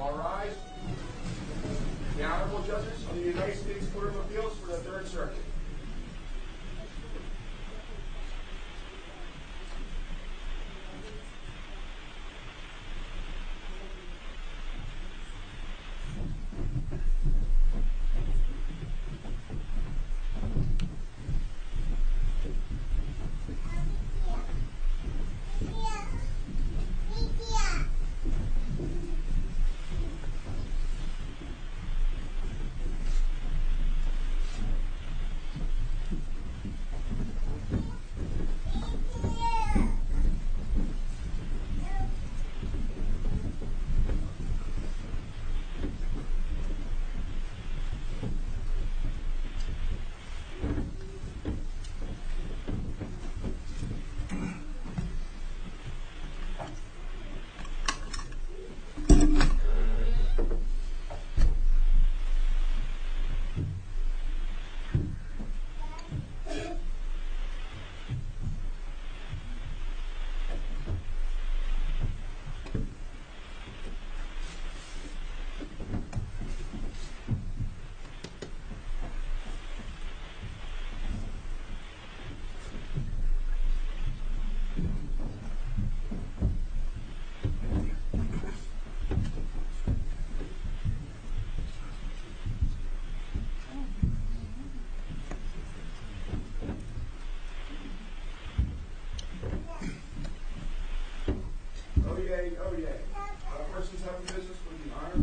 All rise. The Honorable Justice of the United States Court of Appeals for the Third Circuit. The Honorable Justice of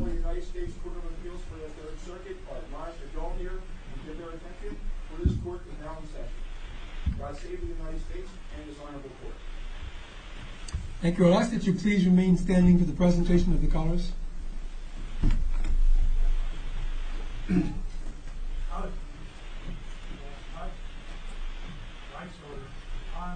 the United States Court of Appeals for the Third Circuit. Here. He's here. He's here. Here. What's your name, please? Thank you. Would I ask that you please remain standing for the presentation of the colors? 1, 2, 3, 4, 5, 6, 7, 8. 1, 2, 3, 4, 5, 6, 7, 8.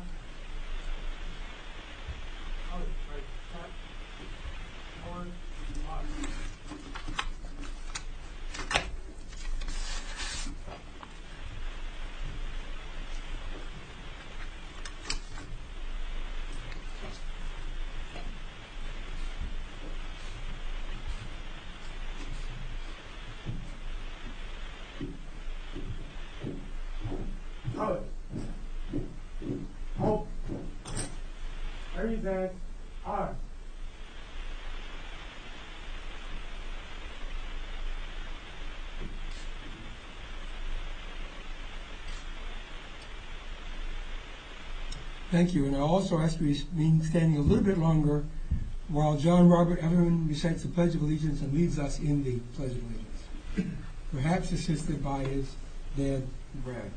Thank you. And I also ask that you remain standing a little bit longer while John Robert Evans presents the Pledge of Allegiance and leads us in the Pledge of Allegiance. Perhaps you should be by his dead breath.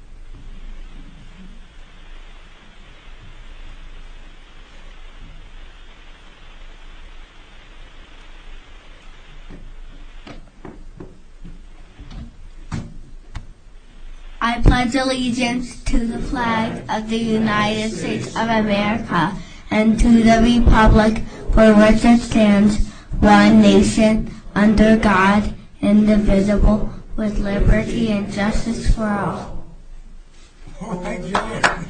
I pledge allegiance to the Flag of the United States of America and to the Republic for which it stands, one Nation under God, indivisible, with liberty and justice for all. Thank you. Thank you. I pledge allegiance to the Flag of the United States of America and to the Republic for which it stands, one Nation under God, indivisible, with liberty and justice for all. Thank you. Thank you. Thank you. Thank you. Thank you. Thank you. Thank you. Thank you. Thank you. Thank you. The colors were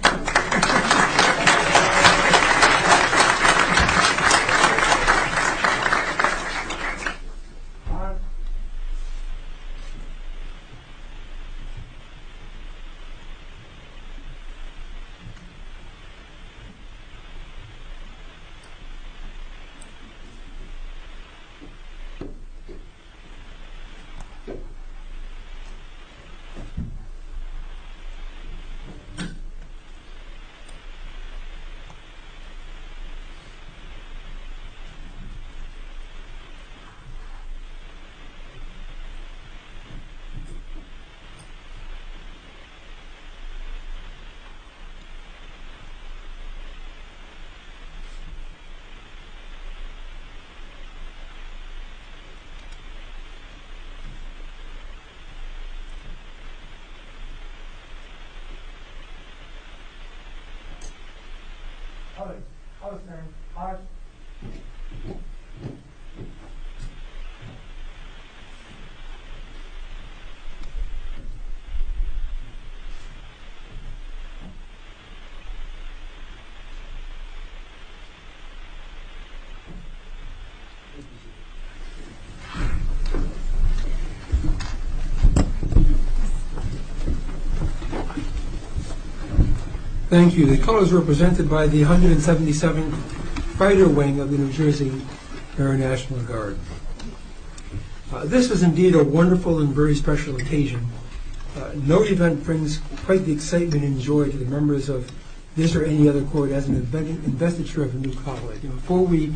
presented by the 177th Fighter Wing of the New Jersey Air National Guard. This is indeed a wonderful and very special occasion. No event brings quite the excitement and joy to the members of this or any other court at the inventory of a new colleague. Before we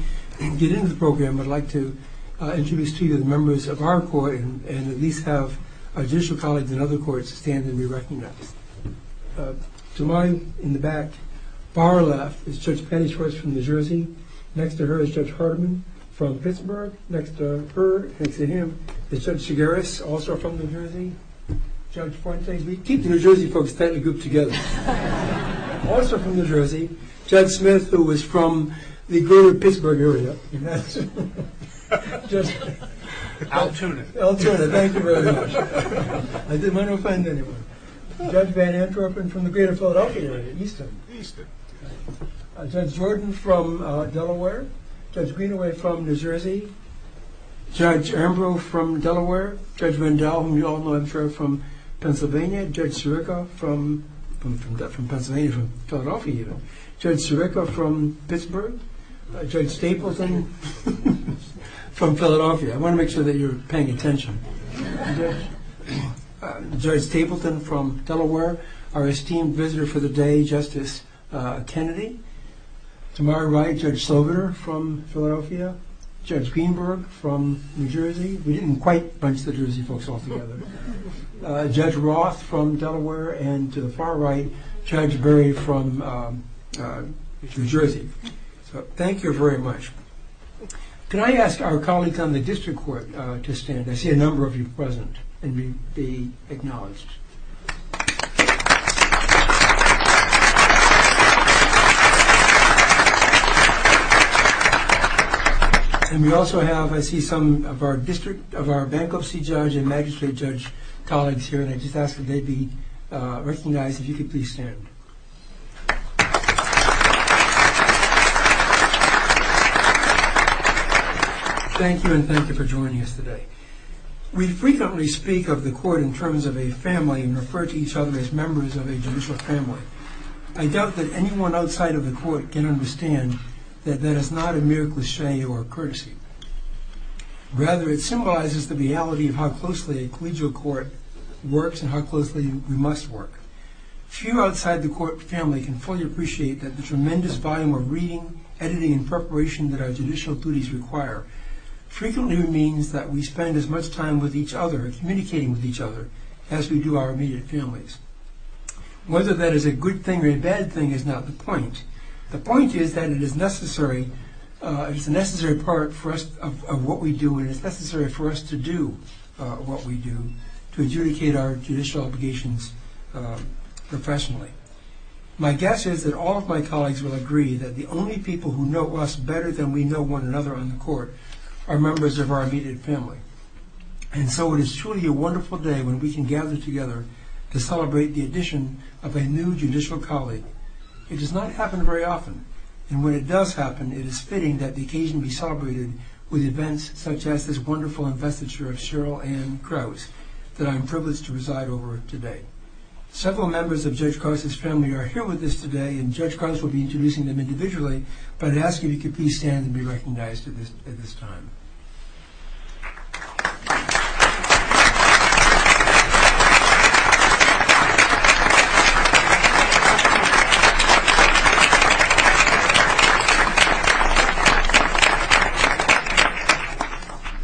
get into the program, I'd like to introduce to you the members of our court and at least have additional colleagues in other courts stand and be recognized. To my, in the back, far left, is Judge Penny Schwartz from New Jersey. Next to her is Judge Hardin from Pittsburgh. Next to her, next to him, is Judge Chigaris, also from New Jersey. Judge Fontes. We keep New Jersey folks kind of grouped together. Also from New Jersey, Judge Smith, who was from the Greater Pittsburgh area. Al Tudor. Al Tudor. Thank you very much. I didn't want to offend anyone. Judge Van Antropen from the Greater Philadelphia area, Easton. Easton. Judge Jordan from Delaware. Judge Greenaway from New Jersey. Judge Armbrough from Delaware. Judge Vandell, whom you all know I'm sure, from Pennsylvania. Judge Sirica from Pennsylvania, Philadelphia even. Judge Sirica from Pittsburgh. Judge Stapleton from Philadelphia. I want to make sure that you're paying attention. Judge Stapleton from Delaware. Our esteemed visitor for the day, Justice Kennedy. To my right, Judge Sloganer from Philadelphia. Judge Greenberg from New Jersey. We didn't quite bunch the Jersey folks all together. Judge Roth from Delaware. And to the far right, Judge Berry from New Jersey. So thank you very much. Can I ask our colleagues on the district court to stand? I see a number of you present and be acknowledged. And we also have, I see some of our district, of our bankruptcy judge and magistrate judge colleagues here. And I just ask that they be recognized. If you could please stand. Thank you and thank you for joining us today. We frequently speak of the court in terms of a fair and impartial court. I doubt that anyone outside of the court can understand that that is not a miracle of courtesy. Rather, it symbolizes the reality of how closely a collegial court works and how closely we must work. Few outside the court family can fully appreciate that the tremendous volume of reading, editing, and preparation that our judicial duties require. Frequently, it means that we spend as much time with each other, communicating with each other, as we do our immediate families. Whether that is a good thing or a bad thing is not the point. The point is that it is necessary, it's a necessary part of what we do and it's necessary for us to do what we do to adjudicate our judicial obligations professionally. My guess is that all of my colleagues will agree that the only people who know us better than we know one another on the court are members of our immediate family. And so it is truly a wonderful day when we can gather together to celebrate the addition of a new judicial colleague. It does not happen very often. And when it does happen, it is fitting that the occasion be celebrated with events such as this wonderful investiture of Cheryl Ann Krause that I'm privileged to reside over today. Several members of Judge Krause's family are here with us today and Judge Krause will be introducing them individually, but I ask you to please stand and be recognized at this time. Thank you.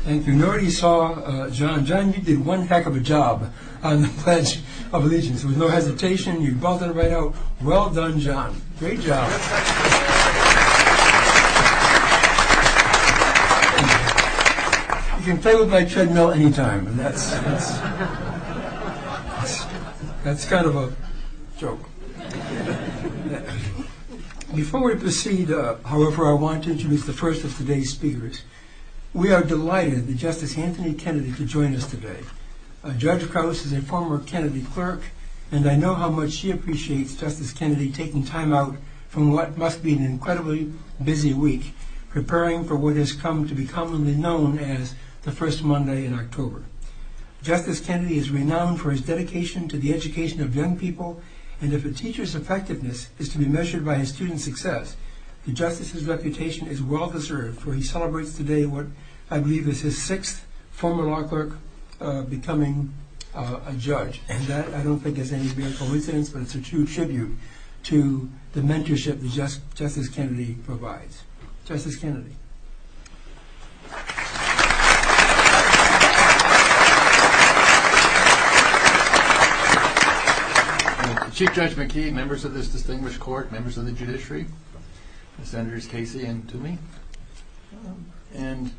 And if you already saw John, John you did one heck of a job on the bench of allegiance. With no hesitation, you brought that right out. Well done John. Great job. You can play with my treadmill anytime. That's kind of a joke. Before we proceed, however, I want to introduce the first of today's speakers. We are delighted that Justice Anthony Kennedy could join us today. Judge Krause is a former Kennedy clerk, and I know how much she appreciates Justice Kennedy taking time out from what must be an incredibly busy week, preparing for what has come to be commonly known as the first Monday in October. Justice Kennedy is renowned for his dedication to the education of young people, and if a teacher's effectiveness is to be measured by his student's success, the justice's reputation is well-deserved, for he celebrates today what I believe is his sixth former law clerk becoming a judge, and that I don't think is anything but a tribute to the mentorship that Justice Kennedy provides. Justice Kennedy. Chief Judge McKee, members of this distinguished court, members of the judiciary, Senators Casey and Toomey, and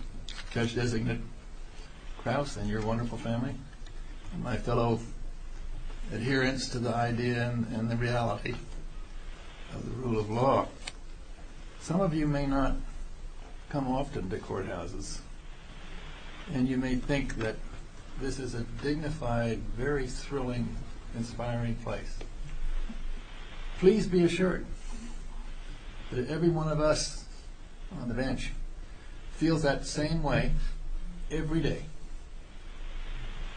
Judge-designate Krause and your wonderful family, and my fellow adherents to the idea and the reality of the rule of law, some of you may not come often to courthouses, and you may think that this is a dignified, very thrilling, inspiring place. Please be assured that every one of us on the bench feels that same way every day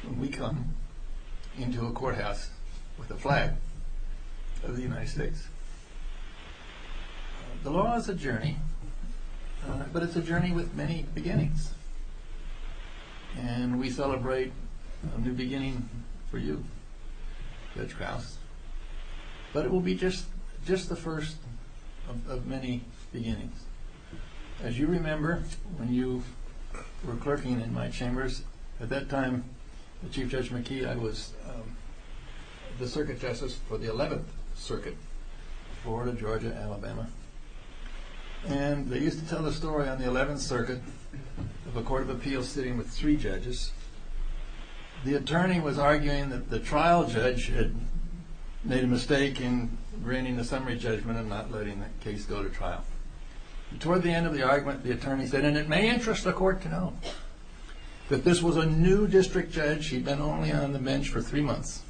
when we come into a courthouse with the flag of the United States. The law is a journey, but it's a journey with many beginnings, and we celebrate a new beginning for you, Judge Krause, but it will be just the first of many beginnings. As you remember, when you were clerking in my chambers, at that time, Chief Judge McKee, I was the circuit justice for the 11th Circuit, Florida, Georgia, Alabama, and they used to tell the story on the 11th Circuit of a court of appeals sitting with three judges. The attorney was arguing that the trial judge had made a mistake in bringing the summary judgment and not letting the case go to trial. Toward the end of the argument, the attorney said, and it may interest the court to know, that this was a new district judge. She'd been only on the bench for three months,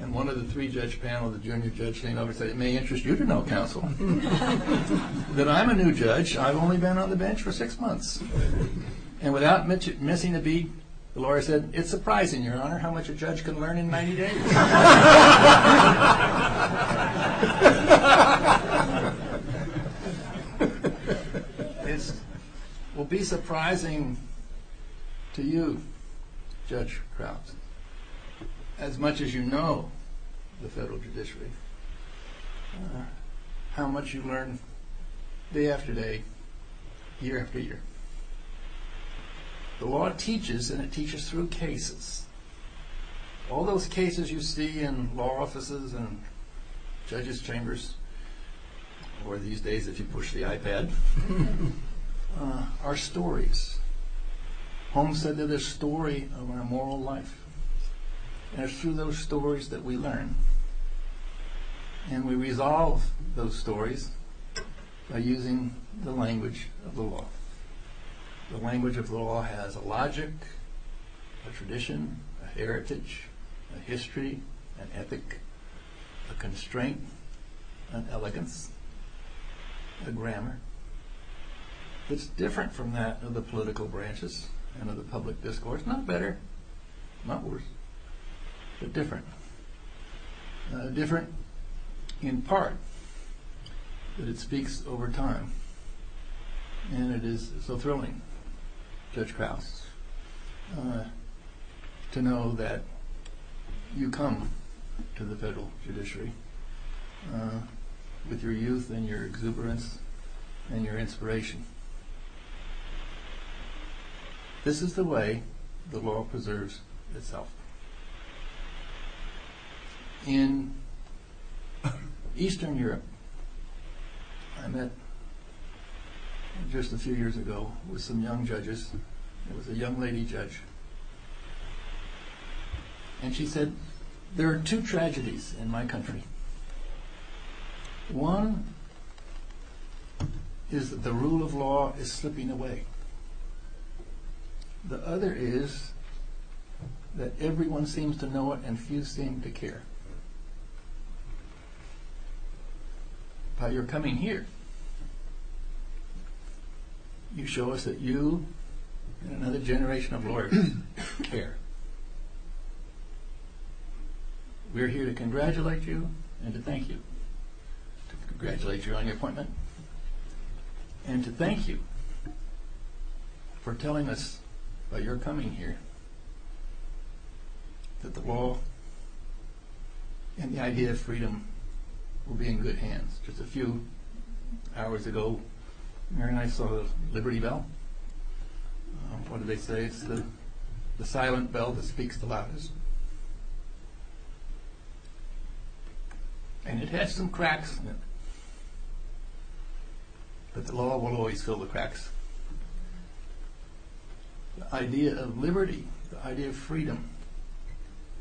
and one of the three-judge panel, the junior judge, came over and said, and it may interest you to know, counsel, that I'm a new judge, I've only been on the bench for six months, and without missing a beat, the lawyer said, it's surprising, your honor, how much a judge can learn in 90 days. It will be surprising to you, Judge Crofton, as much as you know the federal judiciary, how much you learn day after day, year after year. The law teaches, and it teaches through cases. All those cases you see in law offices and judges chambers, or these days as you push the iPad, are stories. Holmes said they're the story of our moral life, and it's through those stories that we learn. And we resolve those stories by using the language of law. The language of law has a logic, a tradition, a heritage, a history, an ethic, a constraint, an elegance, a grammar. It's different from that of the political branches and of the public discourse. Not better, not worse, but different. Different, in part, because it speaks over time, and it is so thrilling, Judge Croft, to know that you come to the federal judiciary with your youth and your exuberance and your inspiration. This is the way the law preserves itself. In Eastern Europe, I met just a few years ago with some young judges. It was a young lady judge. And she said, there are two tragedies in my country. One is that the rule of law is slipping away. The other is that everyone seems to know it and few seem to care. How you're coming here, you show us that you and another generation of lawyers care. We're here to congratulate you and to thank you. Congratulate you on your appointment. And to thank you for telling us while you're coming here that the law and the idea of freedom will be in good hands. Just a few hours ago, Mary and I saw the Liberty Bell. What do they say? It's the silent bell that speaks the loudest. And it has some cracks in it. But the law will always fill the cracks. The idea of liberty, the idea of freedom,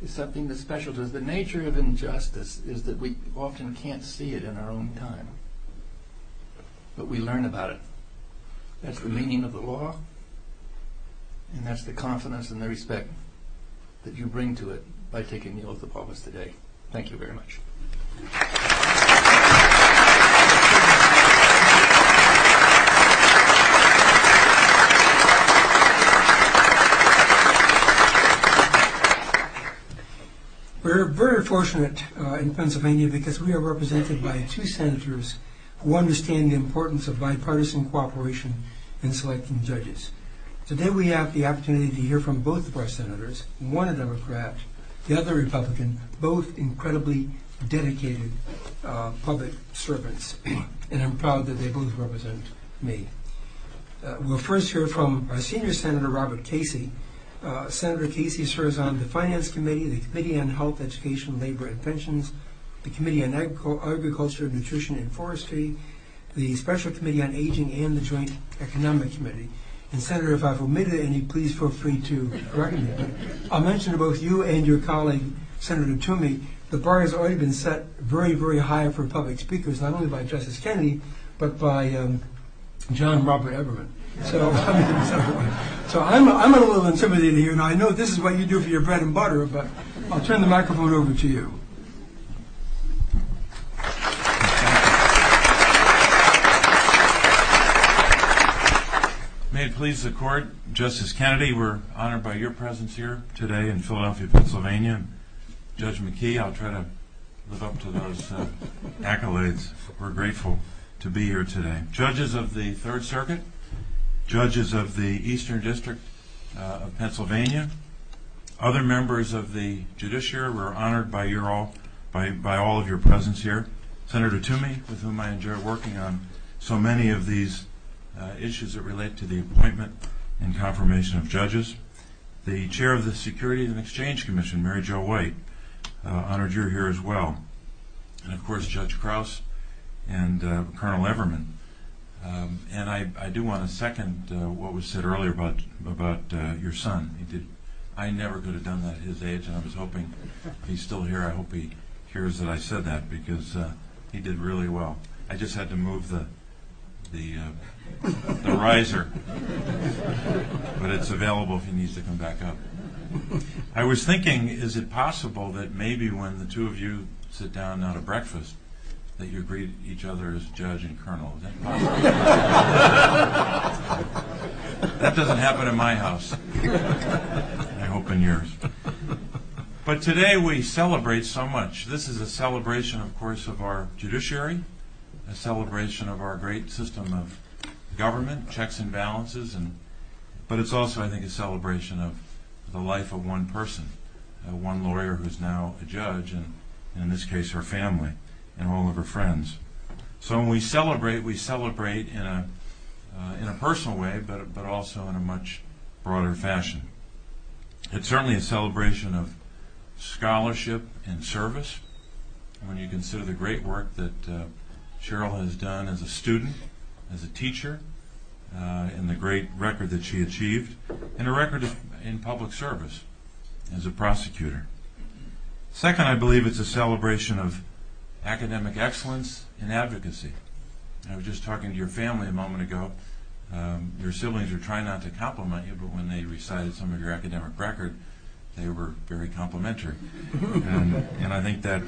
is something that's special. The nature of injustice is that we often can't see it in our own time. But we learn about it. That's the meaning of the law. And that's the confidence and the respect that you bring to it by taking the oath of office today. Thank you very much. Applause We're very fortunate in Pennsylvania because we are represented by two senators who understand the importance of bipartisan cooperation in selecting judges. Today we have the opportunity to hear from both of our senators. One a Democrat, the other a Republican, both incredibly dedicated public servants. And I'm proud that they both represent me. We'll first hear from Senior Senator Robert Casey. Senator Casey serves on the Finance Committee, the Committee on Health, Education, Labor, and Pensions, the Committee on Agriculture, Nutrition, and Forestry, the Special Committee on Aging, and the Joint Economic Committee. Senator, if I've omitted any, please feel free to correct me. I'll mention to both you and your colleague, Senator Toomey, the bar has already been set very, very high for public speakers, not only by Justice Kennedy, but by John Robert Everett. So I'm a little intimidated here, and I know this is what you do for your bread and butter, but I'll turn the microphone over to you. Applause May it please the Court, Justice Kennedy, we're honored by your presence here today in Philadelphia, Pennsylvania. Judge McKee, I'll try to live up to those accolades. We're grateful to be here today. Judges of the Third Circuit, judges of the Eastern District of Pennsylvania, other members of the judiciary, we're honored by all of your presence here. Senator Toomey, with whom I enjoy working on so many of these issues that relate to the appointment and confirmation of judges. The chair of the Security and Exchange Commission, Mary Jo White, honored you here as well. And, of course, Judge Krause and Colonel Everman. And I do want to second what was said earlier about your son. I never could have done that at his age, and I was hoping he's still here. I hope he hears that I said that, because he did really well. I just had to move the riser, but it's available if he needs to come back up. I was thinking, is it possible that maybe when the two of you sit down at a breakfast that you greet each other as Judge and Colonel? Laughter That doesn't happen in my house. I hope in yours. But today we celebrate so much. This is a celebration, of course, of our judiciary, a celebration of our great system of government, checks and balances. But it's also, I think, a celebration of the life of one person, one lawyer who's now a judge, and in this case her family and all of her friends. So when we celebrate, we celebrate in a personal way, but also in a much broader fashion. It's certainly a celebration of scholarship and service. I mean, you consider the great work that Cheryl has done as a student, as a teacher, and the great record that she achieved, and a record in public service as a prosecutor. Second, I believe, is a celebration of academic excellence and advocacy. I was just talking to your family a moment ago. Your siblings were trying not to compliment you, but when they recited some of your academic record, they were very complimentary. And I think that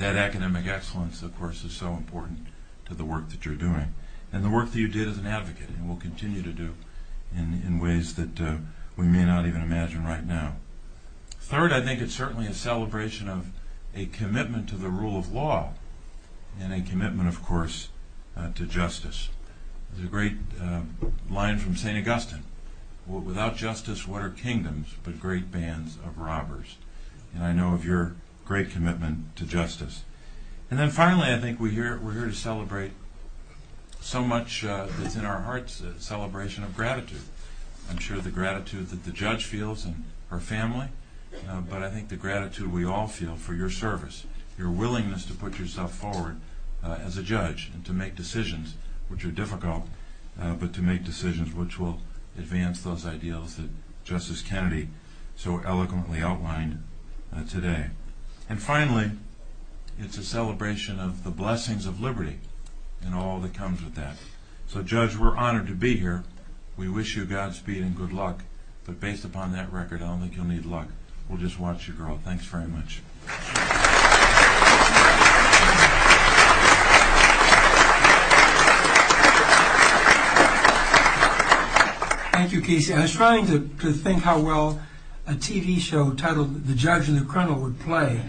academic excellence, of course, is so important to the work that you're doing, and the work that you did as an advocate, and will continue to do in ways that we may not even imagine right now. Third, I think it's certainly a celebration of a commitment to the rule of law, and a commitment, of course, to justice. There's a great line from St. Augustine. Without justice, what are kingdoms but great bands of robbers? And I know of your great commitment to justice. And then finally, I think we're here to celebrate so much in our hearts, a celebration of gratitude. I'm sure the gratitude that the judge feels, and her family, but I think the gratitude we all feel for your service, your willingness to put yourself forward as a judge, and to make decisions which are difficult, but to make decisions which will advance those ideals that Justice Kennedy so eloquently outlined today. And finally, it's a celebration of the blessings of liberty and all that comes with that. So judge, we're honored to be here. We wish you Godspeed and good luck. But based upon that record, I don't think you'll need luck. We'll just watch you grow. Thanks very much. Thank you, Keesha. I was trying to think how well a TV show titled The Judge and the Criminal would play.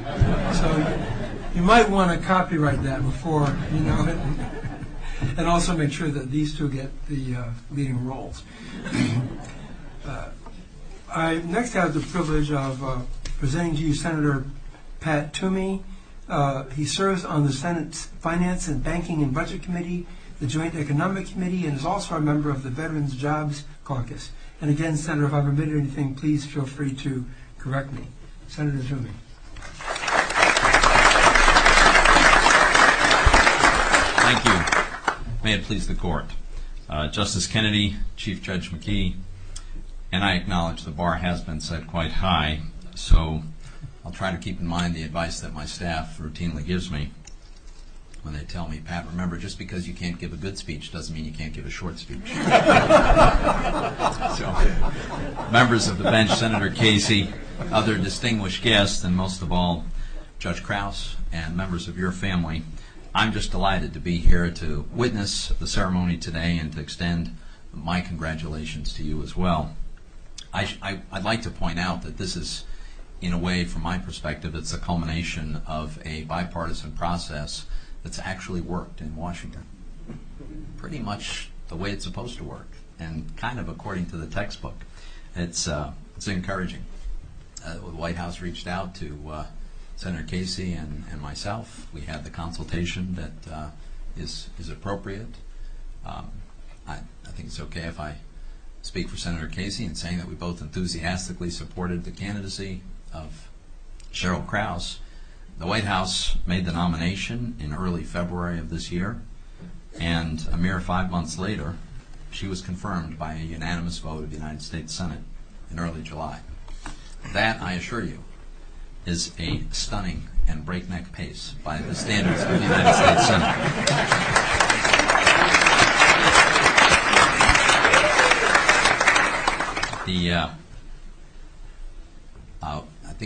You might want to copyright that before. And also make sure that these two get the role. I next have the privilege of presenting to you Senator Pat Toomey. He serves on the Senate Finance and Banking and Budget Committee, the Joint Economic Committee, and is also a member of the Veterans Jobs Caucus. And again, Senator, if I've omitted anything, please feel free to correct me. Senator Toomey. Thank you. May it please the court. Justice Kennedy, Chief Judge McKee, and I acknowledge the bar has been set quite high, so I'll try to keep in mind the advice that my staff routinely gives me when they tell me, Pat, remember just because you can't give a good speech doesn't mean you can't give a short speech. Members of the bench, Senator Casey, other distinguished guests, and most of all, Judge Krause and members of your family, I'm just delighted to be here to witness the ceremony today and to extend my congratulations to you as well. I'd like to point out that this is, in a way, from my perspective, it's a culmination of a bipartisan process that's actually worked in Washington. Pretty much the way it's supposed to work and kind of according to the textbook. It's encouraging. When the White House reached out to Senator Casey and myself, we had the consultation that is appropriate. I think it's okay if I speak for Senator Casey in saying that we both enthusiastically supported the candidacy of Cheryl Krause. The White House made the nomination in early February of this year, and a mere five months later, she was confirmed by a unanimous vote of the United States Senate in early July. That, I assure you, is a stunning and breakneck pace by the standards of the United States Senate.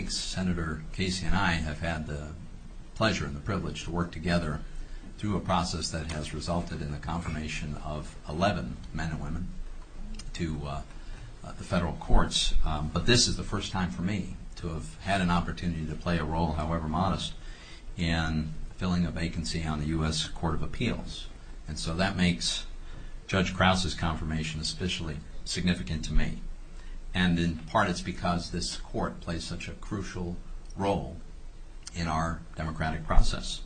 I think Senator Casey and I have had the pleasure and the privilege to work together through a process that has resulted in the confirmation of 11 men and women to federal courts, but this is the first time for me to have had an opportunity to play a role, however modest, in filling a vacancy on the U.S. Court of Appeals. And so that makes Judge Krause's confirmation especially significant to me, and in part it's because this court plays such a crucial role in our democratic process.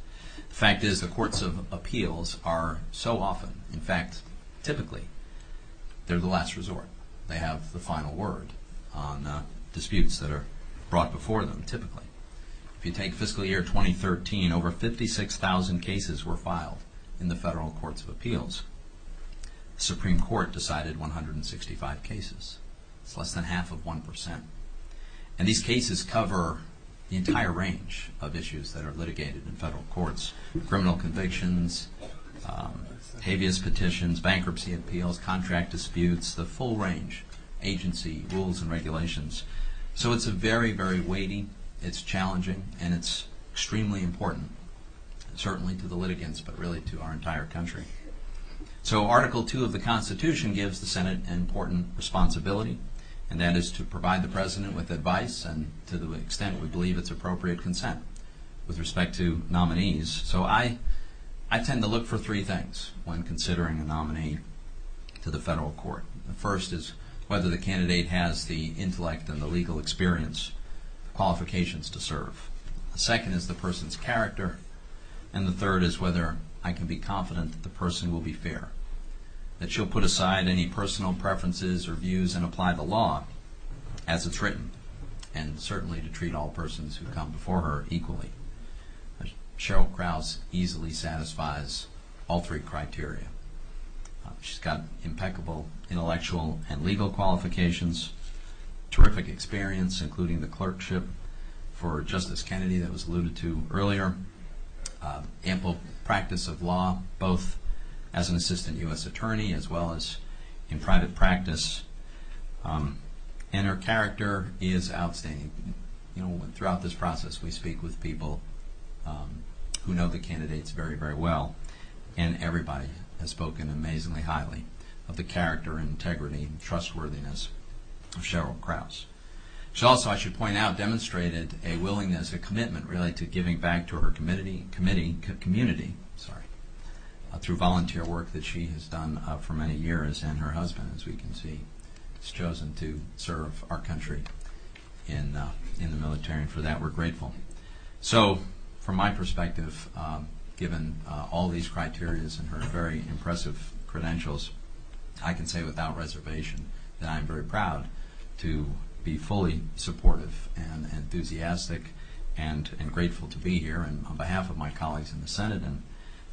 The fact is the courts of appeals are so often, in fact, typically, they're the last resort. They have the final word on disputes that are brought before them, typically. If you take fiscal year 2013, over 56,000 cases were filed in the federal courts of appeals. The Supreme Court decided 165 cases, less than half of 1%. And these cases cover the entire range of issues that are litigated in federal courts, criminal convictions, habeas petitions, bankruptcy appeals, contract disputes, the full range of agency rules and regulations. So it's very, very weighty, it's challenging, and it's extremely important, certainly to the litigants, but really to our entire country. So Article II of the Constitution gives the Senate an important responsibility, and that is to provide the President with advice and, to the extent we believe it's appropriate, consent with respect to nominees. So I tend to look for three things when considering a nominee to the federal court. The first is whether the candidate has the intellect and the legal experience, qualifications to serve. The second is the person's character. And the third is whether I can be confident that the person will be fair, that she'll put aside any personal preferences or views and apply the law as it's written, and certainly to treat all persons who have come before her equally. Cheryl Krause easily satisfies all three criteria. She's got impeccable intellectual and legal qualifications, terrific experience, including the clerkship for Justice Kennedy that was alluded to earlier, ample practice of law, both as an assistant U.S. attorney as well as in private practice, and her character is outstanding. Throughout this process, we speak with people who know the candidates very, very well, and everybody has spoken amazingly highly of the character, integrity, and trustworthiness of Cheryl Krause. She also, I should point out, demonstrated a willingness, a commitment, related to giving back to her community through volunteer work that she has done for many years, and her husband, as we can see, has chosen to serve our country in the military, and for that we're grateful. So, from my perspective, given all these criteria and her very impressive credentials, I can say without reservation that I am very proud to be fully supportive and enthusiastic and grateful to be here, and on behalf of my colleagues in the Senate and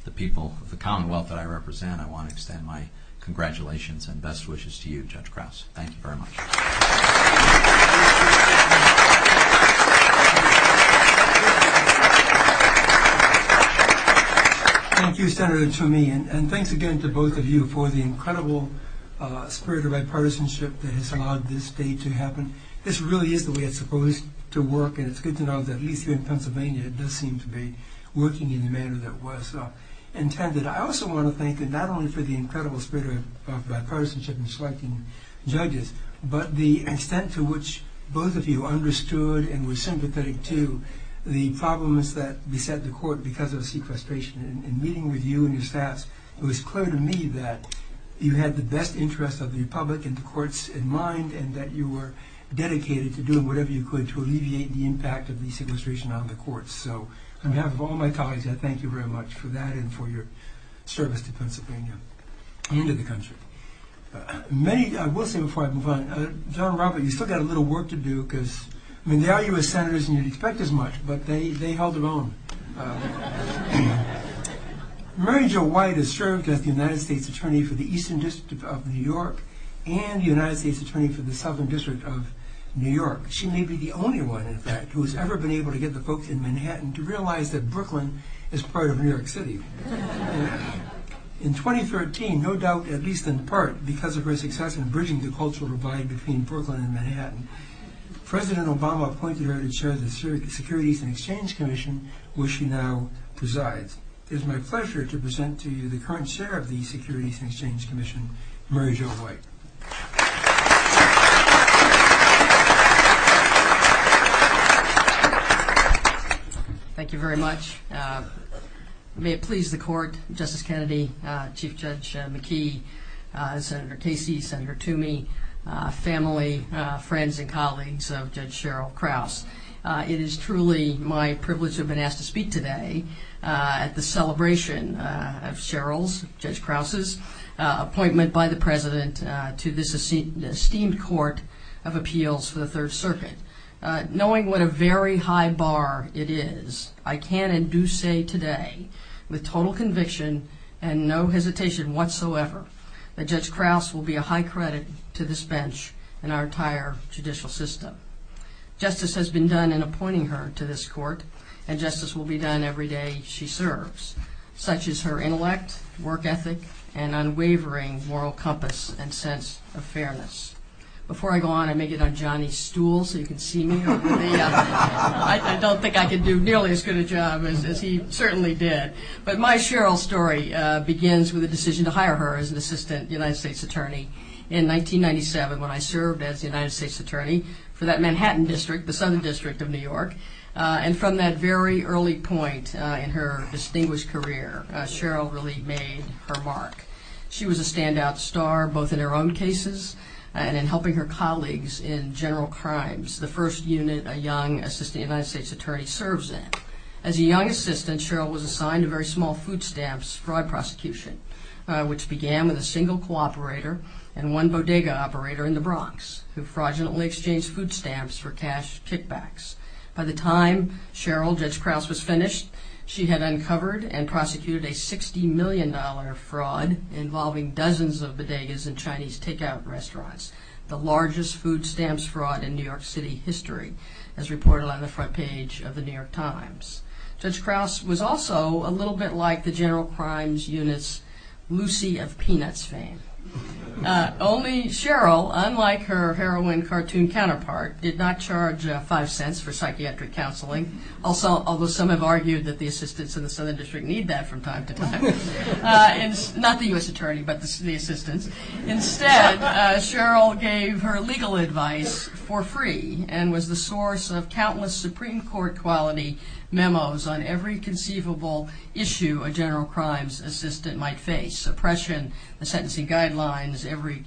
the people, the commonwealth that I represent, I want to extend my congratulations and best wishes to you, Judge Krause. Thank you very much. Thank you, Senator Toomey, and thanks again to both of you for the incredible spirit of bipartisanship that has allowed this day to happen. This really is the way it's supposed to work, and it's good to know that at least here in Pennsylvania, it does seem to be working in the manner that was intended. I also want to thank you not only for the incredible spirit of bipartisanship in selecting judges, but the extent to which both of you understood and were sympathetic to the problems that beset the court because of sequestration. In meeting with you and your staff, it was clear to me that you had the best interests of the public and the courts in mind, and that you were dedicated to doing whatever you could to alleviate the impact of these illustrations on the courts. So on behalf of all my colleagues, I thank you very much for that and for your service to Pennsylvania and to the country. I will say before I move on, General Robert, you've still got a little work to do, because there are U.S. Senators, and you'd expect as much, but they held it on. Mary Jo White has served as the United States Attorney for the Eastern District of New York and the United States Attorney for the Southern District of New York. She may be the only one, in fact, who has ever been able to get the vote in Manhattan to realize that Brooklyn is part of New York City. In 2013, no doubt at least in part because of her success in bridging the cultural divide between Brooklyn and Manhattan, President Obama appointed her to chair the Securities and Exchange Commission, which she now presides. It is my pleasure to present to you the current chair of the Securities and Exchange Commission, Mary Jo White. Thank you. Thank you very much. May it please the Court, Justice Kennedy, Chief Judge McKee, Senator Casey, Senator Toomey, family, friends and colleagues of Judge Sheryl Krause. It is truly my privilege to have been asked to speak today at the celebration of Sheryl's, Judge Krause's appointment by the President to this esteemed court of appeals for the Third Circuit. Knowing what a very high bar it is, I can and do say today with total conviction and no hesitation whatsoever that Judge Krause will be a high credit to this bench and our entire judicial system. Justice has been done in appointing her to this court and justice will be done every day she serves. Such is her intellect, work ethic, and unwavering moral compass and sense of fairness. Before I go on, I may get on Johnny's stool so you can see me. I don't think I can do nearly as good a job as he certainly did. But my Sheryl story begins with the decision to hire her as an assistant United States Attorney in 1997 when I served as the United States Attorney for that Manhattan district, the Southern District of New York. And from that very early point in her distinguished career, Sheryl really made her mark. She was a standout star both in her own cases and in helping her colleagues in general crimes, the first unit a young assistant United States Attorney serves in. As a young assistant, Sheryl was assigned a very small food stamps fraud prosecution, which began with a single cooperator and one bodega operator in the Bronx who fraudulently exchanged food stamps for cash kickbacks. By the time Sheryl Judge Krause was finished, she had uncovered and prosecuted a $60 million fraud involving dozens of bodegas in Chinese takeout restaurants, the largest food stamps fraud in New York City history as reported on the front page of the New York Times. Judge Krause was also a little bit like the general crimes units Lucy of Peanuts fame. Only Sheryl, unlike her heroine cartoon counterpart, did not charge five cents for psychiatric counseling. Although some have argued that the assistants in the Southern District need that from time to time. Not the U.S. Attorney, but the assistant. Instead, Sheryl gave her legal advice for free and was the source of countless Supreme Court quality memos on every conceivable issue a general crimes assistant might face. Suppression and sentencing guidelines, every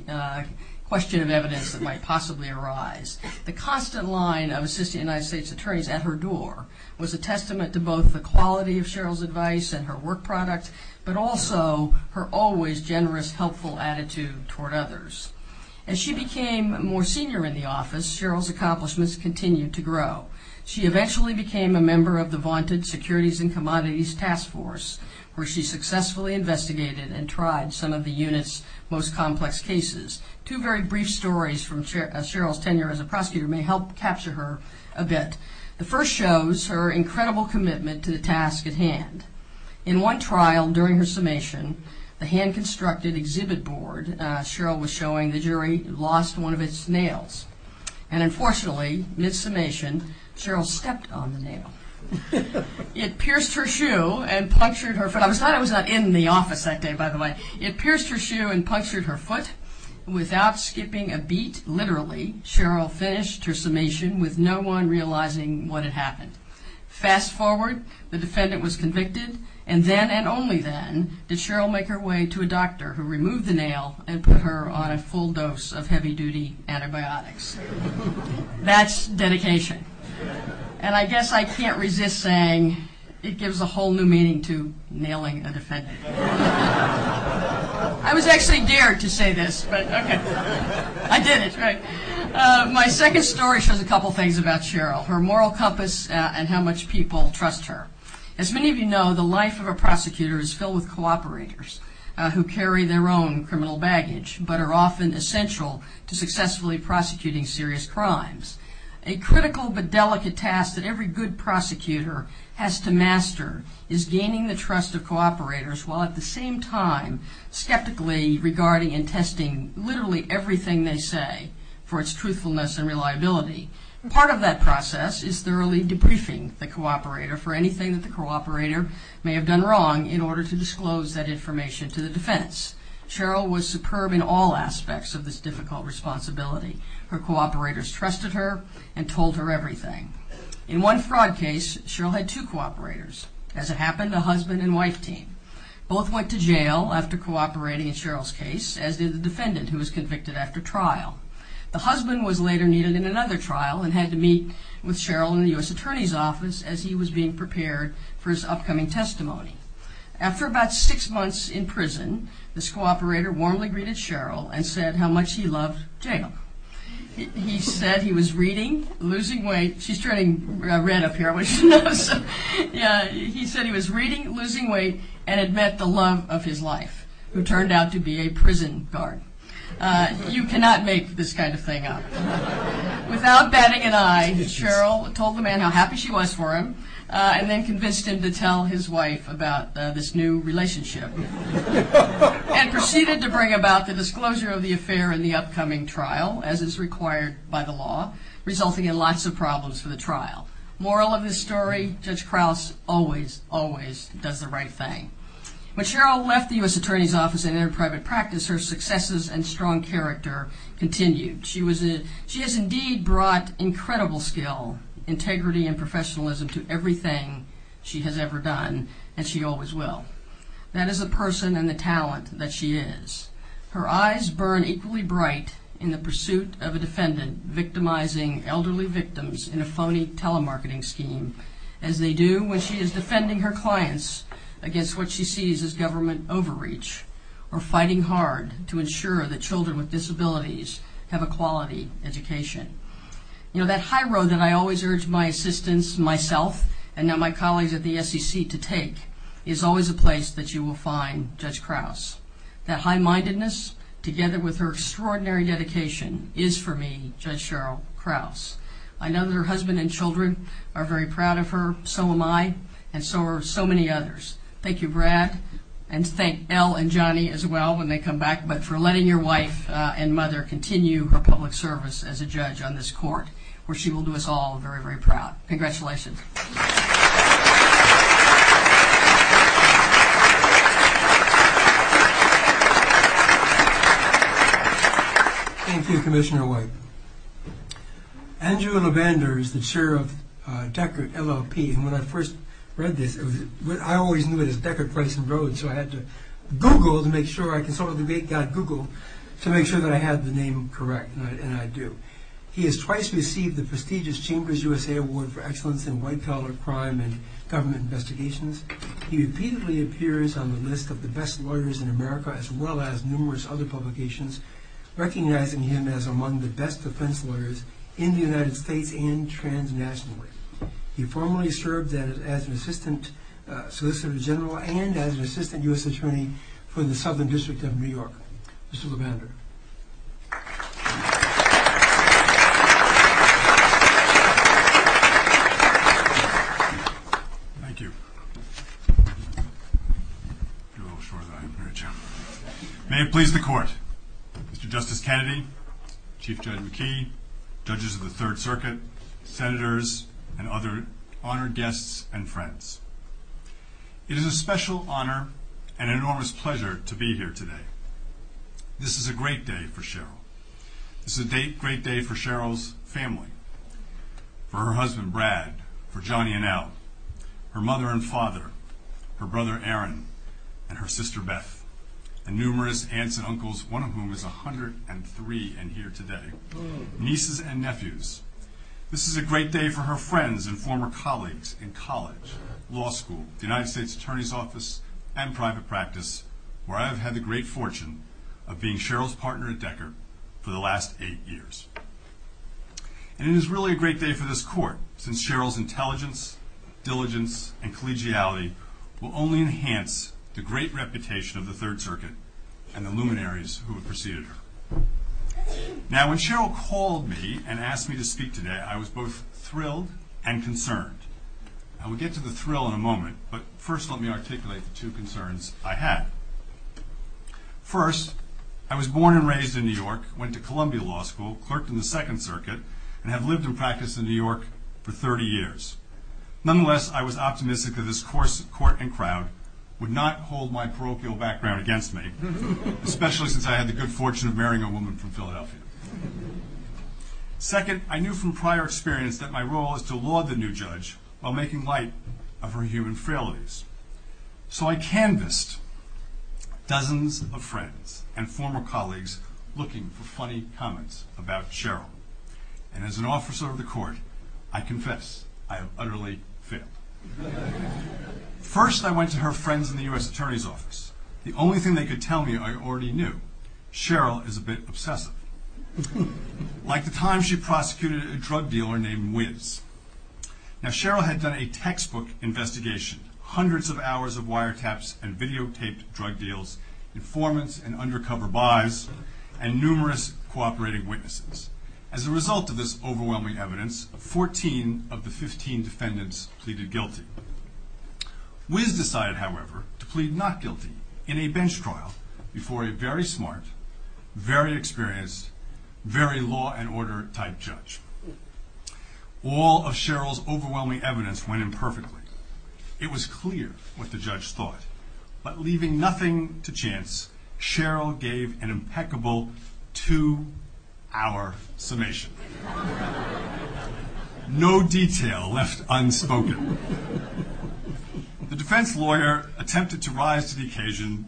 question of evidence that might possibly arise. The constant line of assistant United States attorneys at her door was a testament to both the quality of Sheryl's advice and her work product, but also her always generous, helpful attitude toward others. As she became more senior in the office, Sheryl's accomplishments continued to grow. She eventually became a member of the vaunted Securities and Commodities Task Force, where she successfully investigated and tried some of the unit's most complex cases. Two very brief stories from Sheryl's tenure as a prosecutor may help capture her a bit. The first shows her incredible commitment to the task at hand. In one trial during her summation, a hand constructed exhibit board, Sheryl was showing the jury lost one of its nails. And unfortunately, mid-summation, Sheryl stepped on the nail. It pierced her shoe and punctured her foot. I thought I was not in the office that day, by the way. It pierced her shoe and punctured her foot without skipping a beat. Literally, Sheryl finished her summation with no one realizing what had happened. Fast forward, the defendant was convicted, and then and only then did Sheryl make her way to a doctor who removed the nail and put her on a full dose of heavy duty antibiotics. That's dedication. And I guess I can't resist saying it gives a whole new meaning to nailing a defendant. I was actually dared to say this, but okay. I did it. My second story shows a couple things about Sheryl, her moral compass and how much people trust her. As many of you know, the life of a prosecutor is filled with cooperators who carry their own criminal baggage but are often essential to successfully prosecuting serious crimes. A critical but delicate task that every good prosecutor has to master is gaining the trust of cooperators while at the same time skeptically regarding and testing literally everything they say for its truthfulness and reliability. Part of that process is thoroughly debriefing the cooperator for anything that the cooperator may have done wrong in order to disclose that information to the defense. Sheryl was superb in all aspects of this difficult responsibility. Her cooperators trusted her and told her everything. In one fraud case, Sheryl had two cooperators. As it happened, a husband and wife team. Both went to jail after cooperating in Sheryl's case, as did the defendant who was convicted after trial. The husband was later needed in another trial and had to meet with Sheryl in the U.S. Attorney's Office as he was being prepared for his upcoming testimony. After about six months in prison, this cooperator warmly greeted Sheryl and said how much he loved him. He said he was reading, losing weight. She's turning red up here. He said he was reading, losing weight and had met the love of his life who turned out to be a prison guard. You cannot make this kind of thing up. Without batting an eye, Sheryl told the man how happy she was for him and then convinced him to tell his wife about this new relationship and proceeded to bring about the disclosure of the affair in the upcoming trial, as is required by the law, resulting in lots of problems for the trial. Moral of the story, Judge Krauss always, always does the right thing. When Sheryl left the U.S. Attorney's Office and entered private practice, her successes and strong character continued. She was a, she has indeed brought incredible skill, integrity and professionalism to everything she has ever done and she always will. That is the person and the talent that she is. Her eyes burn equally bright in the pursuit of a defendant victimizing elderly victims in a phony telemarketing scheme as they do when she is defending her clients against what she sees as government overreach or fighting hard to ensure that children with disabilities have a quality education. You know, that high road that I always urge my assistants, myself, and now my colleagues at the SEC to take is always a place that you will find Judge Krauss. That high-mindedness together with her extraordinary dedication is, for me, Judge Sheryl Krauss. I know that her husband and children are very proud of her, so am I, and so are so many others. Thank you, Brad, and thank El and Johnny as well when they come back, but for letting your wife and mother continue her public service as a judge on this court where she will do us all very, very proud. Congratulations. Applause Thank you, Commissioner White. Andrew LaVander is the chair of Deckard LLP, and when I first read this, I always knew it as Deckard, Price, and Rhodes, so I had to Google to make sure I can sort of make that Google to make sure that I had the name correct, and I do. He has twice received the prestigious Chambers USA Award for Excellence in White Collar Crime and Government Investigations. He repeatedly appears on the list of the best lawyers in America as well as numerous other publications, recognizing him as among the best defense lawyers in the United States and transnationally. He formerly served as an Assistant Solicitor General and as an Assistant U.S. Attorney for the Southern District of New York. Mr. LaVander. Applause Thank you. May it please the court. Mr. Justice Kennedy, Chief Judge McKee, judges of the Third Circuit, senators, and other honored guests and friends. It is a special honor and enormous pleasure to be here today. This is a great day for Cheryl. This is a great day for Cheryl's family, for her husband Brad, for Johnny and Al, her mother and father, her brother Aaron, and her sister Beth, and numerous aunts and uncles, one of whom is 103 and here today, nieces and nephews. This is a great day for her friends and former colleagues in college, law school, the United States Attorney's Office, and private practice, where I have had the great fortune of being Cheryl's partner and decker for the last eight years. And it is really a great day for this court, since Cheryl's intelligence, diligence, and collegiality will only enhance the great reputation of the Third Circuit and the luminaries who have preceded her. Now, when Cheryl called me and asked me to speak today, I was both thrilled and concerned. I will get to the thrill in a moment, but first let me articulate the two concerns I had. First, I was born and raised in New York, went to Columbia Law School, clerked in the Second Circuit, and had lived and practiced in New York for 30 years. Nonetheless, I was optimistic that this court and crowd would not hold my parochial background against me, especially since I had the good fortune of marrying a woman from Philadelphia. Second, I knew from prior experience that my role is to laud the new judge while making light of her human frailties. So I canvassed dozens of friends and former colleagues looking for funny comments about Cheryl. And as an officer of the court, I confess, I am utterly fit. First, I went to her friends in the U.S. Attorney's Office. The only thing they could tell me I already knew. Cheryl is a bit obsessive. Like the time she prosecuted a drug dealer named Wiz. Now Cheryl had done a textbook investigation, hundreds of hours of wiretaps and videotaped drug deals, informants and undercover bribes, and numerous cooperating witnesses. As a result of this overwhelming evidence, 14 of the 15 defendants pleaded guilty. Wiz decided, however, to plead not guilty in a bench trial before a very smart, very experienced, very law and order type judge. All of Cheryl's overwhelming evidence went imperfectly. It was clear what the judge thought. But leaving nothing to chance, Cheryl gave an impeccable two-hour summation. No detail left unspoken. The defense lawyer attempted to rise to the occasion,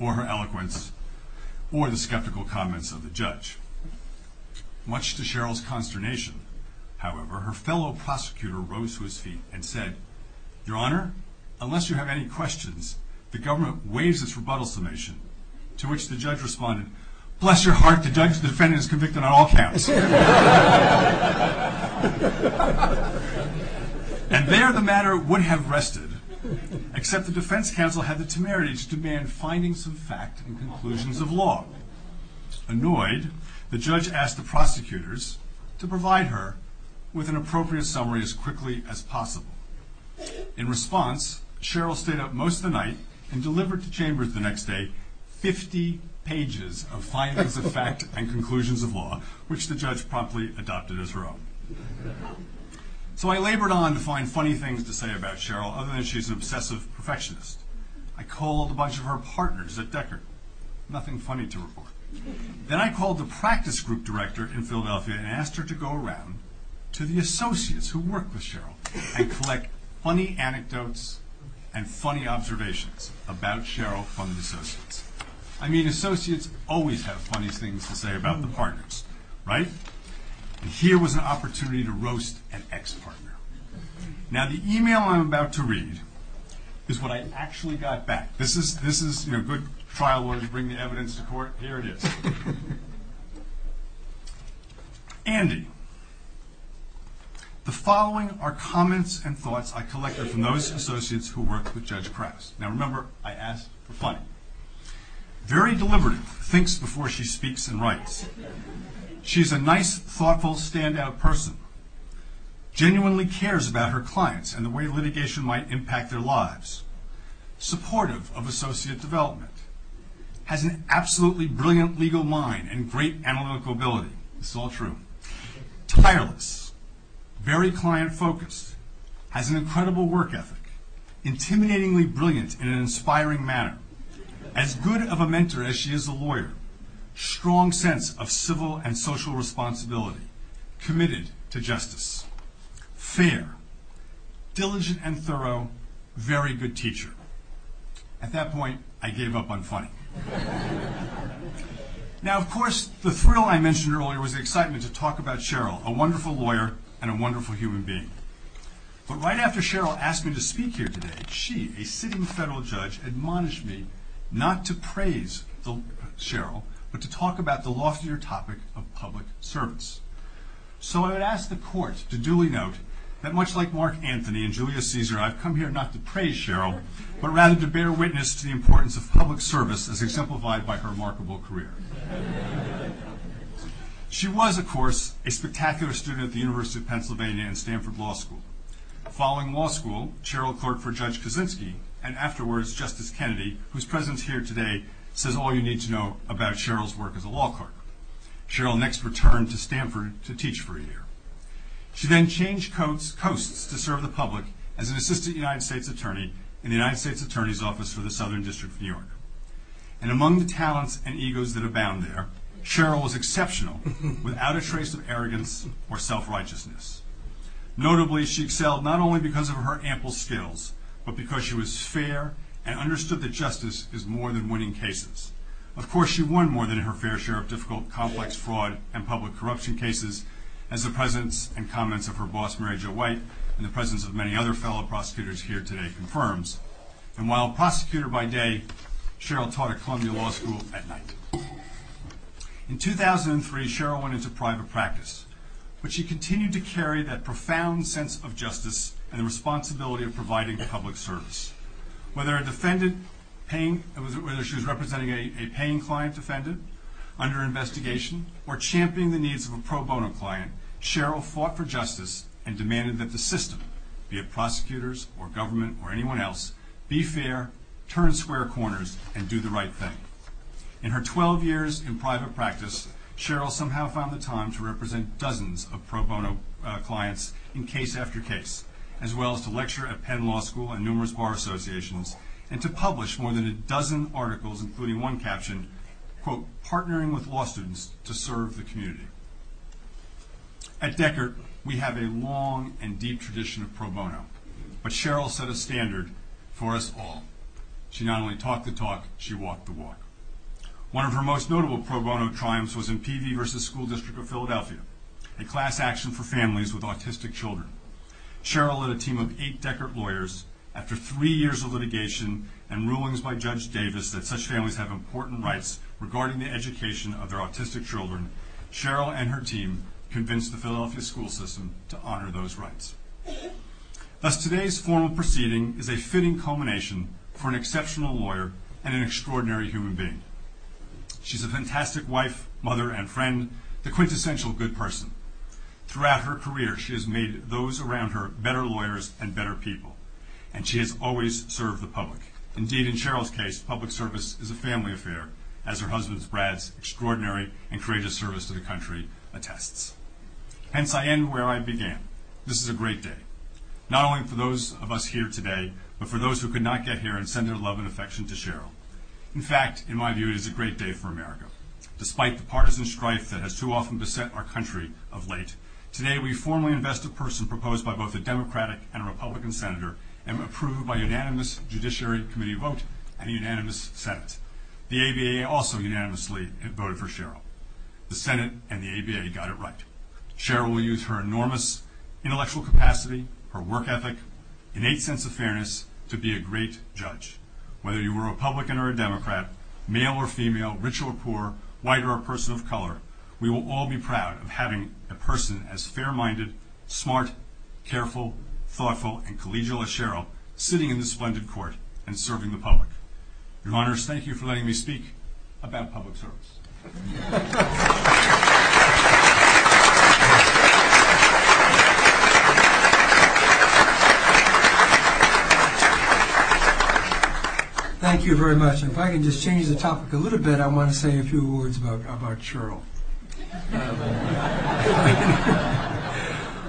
or her eloquence, or the skeptical comments of the judge. Much to Cheryl's consternation, however, her fellow prosecutor rose to his feet and said, Your Honor, unless you have any questions, the government waives this rebuttal summation. To which the judge responded, bless your heart, the judge's defendant is convicted on all counts. And there the matter would have rested, except the defense counsel had the temerity to demand findings of fact and conclusions of law. Annoyed, the judge asked the prosecutors to provide her with an appropriate summary as quickly as possible. In response, Cheryl stayed up most of the night and delivered to chambers the next day 50 pages of findings of fact and conclusions of law, which the judge promptly adopted as her own. So I labored on to find funny things to say about Cheryl, other than she's an obsessive perfectionist. I called a bunch of her partners at Deckard. Nothing funny to report. Then I called the practice group director in Philadelphia and asked her to go around to the associates who work with Cheryl and collect funny anecdotes and funny observations about Cheryl from the associates. I mean, associates always have funny things to say about their partners, right? And here was an opportunity to roast an ex-partner. Now the email I'm about to read is what I actually got back. This is a good trial where you bring the evidence to court. Here it is. Andy, the following are comments and thoughts I collected from those associates who work with Judge Krause. Very deliberate, thinks before she speaks and writes. She's a nice, thoughtful, standout person. Genuinely cares about her clients and the way litigation might impact their lives. Supportive of associate development. Has an absolutely brilliant legal mind and great analytical ability. It's all true. Tireless. Very client focused. Has an incredible work ethic. Intimidatingly brilliant in an inspiring manner. As good of a mentor as she is a lawyer. Strong sense of civil and social responsibility. Committed to justice. Fair. Diligent and thorough. Very good teacher. At that point, I gave up on fun. Now of course, the thrill I mentioned earlier was the excitement to talk about Cheryl, a wonderful lawyer and a wonderful human being. But right after Cheryl asked me to speak here today, she, a sitting federal judge, admonished me not to praise Cheryl, but to talk about the loftier topic of public service. So I asked the court to duly note that much like Mark Anthony and Julius Caesar, I've come here not to praise Cheryl, but rather to bear witness to the importance of public service as exemplified by her remarkable career. She was, of course, a spectacular student at the University of Pennsylvania and Stanford Law School. Following law school, Cheryl clerked for Judge Kaczynski and afterwards Justice Kennedy, whose presence here today says all you need to know about Cheryl's work as a law clerk. Cheryl next returned to Stanford to teach for a year. She then changed coasts to serve the public as an assistant United States attorney in the United States Attorney's Office for the Southern District of New York. And among the talents and egos that abound there, Cheryl was exceptional without a trace of arrogance or self-righteousness. Notably, she excelled not only because of her ample skills, but because she was fair and understood that justice is more than winning cases. Of course, she won more than her fair share of difficult, complex fraud and public corruption cases, as the presence and comments of her boss, Mary Jo White, and the presence of many other fellow prosecutors here today confirms. And while a prosecutor by day, Cheryl taught at Columbia Law School at night. In 2003, Cheryl went into private practice. But she continued to carry that profound sense of justice and responsibility of providing public service. Whether she was representing a paying client's defendant under investigation, or championing the needs of a pro bono client, Cheryl fought for justice and demanded that the system, be it prosecutors or government or anyone else, be fair, turn square corners, and do the right thing. In her 12 years in private practice, Cheryl somehow found the time to represent dozens of pro bono clients in case after case, as well as to lecture at Penn Law School and numerous bar associations, and to publish more than a dozen articles, including one caption, quote, partnering with law students to serve the community. At Deckert, we have a long and deep tradition of pro bono. But Cheryl set a standard for us all. She not only talked the talk, she walked the walk. One of her most notable pro bono crimes was in PV versus School District of Philadelphia, a class action for families with autistic children. Cheryl led a team of eight Deckert lawyers. After three years of litigation and rulings by Judge Davis that such families have important rights regarding the education of their autistic children, Cheryl and her team convinced the Philadelphia school system to honor those rights. Thus, today's formal proceeding is a fitting culmination for an exceptional lawyer and an extraordinary human being. She's a fantastic wife, mother, and friend, a quintessential good person. Throughout her career, she has made those around her better lawyers and better people. And she has always served the public. Indeed, in Cheryl's case, public service is a family affair, as her husband Brad's extraordinary and courageous service to the country attests. Hence, I end where I began. This is a great day, not only for those of us here today, but for those who could not get here and send their love and affection to Cheryl. In fact, in my view, it is a great day for America. Despite the partisan strife that has too often beset our country of late, today we formally invest a person proposed by both a Democratic and a Republican Senator and approved by unanimous Judiciary Committee vote and a unanimous Senate. The ABA also unanimously voted for Cheryl. The Senate and the ABA got it right. Cheryl used her enormous intellectual capacity, her work ethic, innate sense of fairness to be a great judge. Whether you were a Republican or a Democrat, male or female, rich or poor, white or a person of color, we will all be proud of having a person as fair-minded, smart, careful, thoughtful, and collegial as Cheryl sitting in this splendid court and serving the public. Your Honors, thank you for letting me speak about public service. Thank you very much. If I could just change the topic a little bit, I want to say a few words about Cheryl.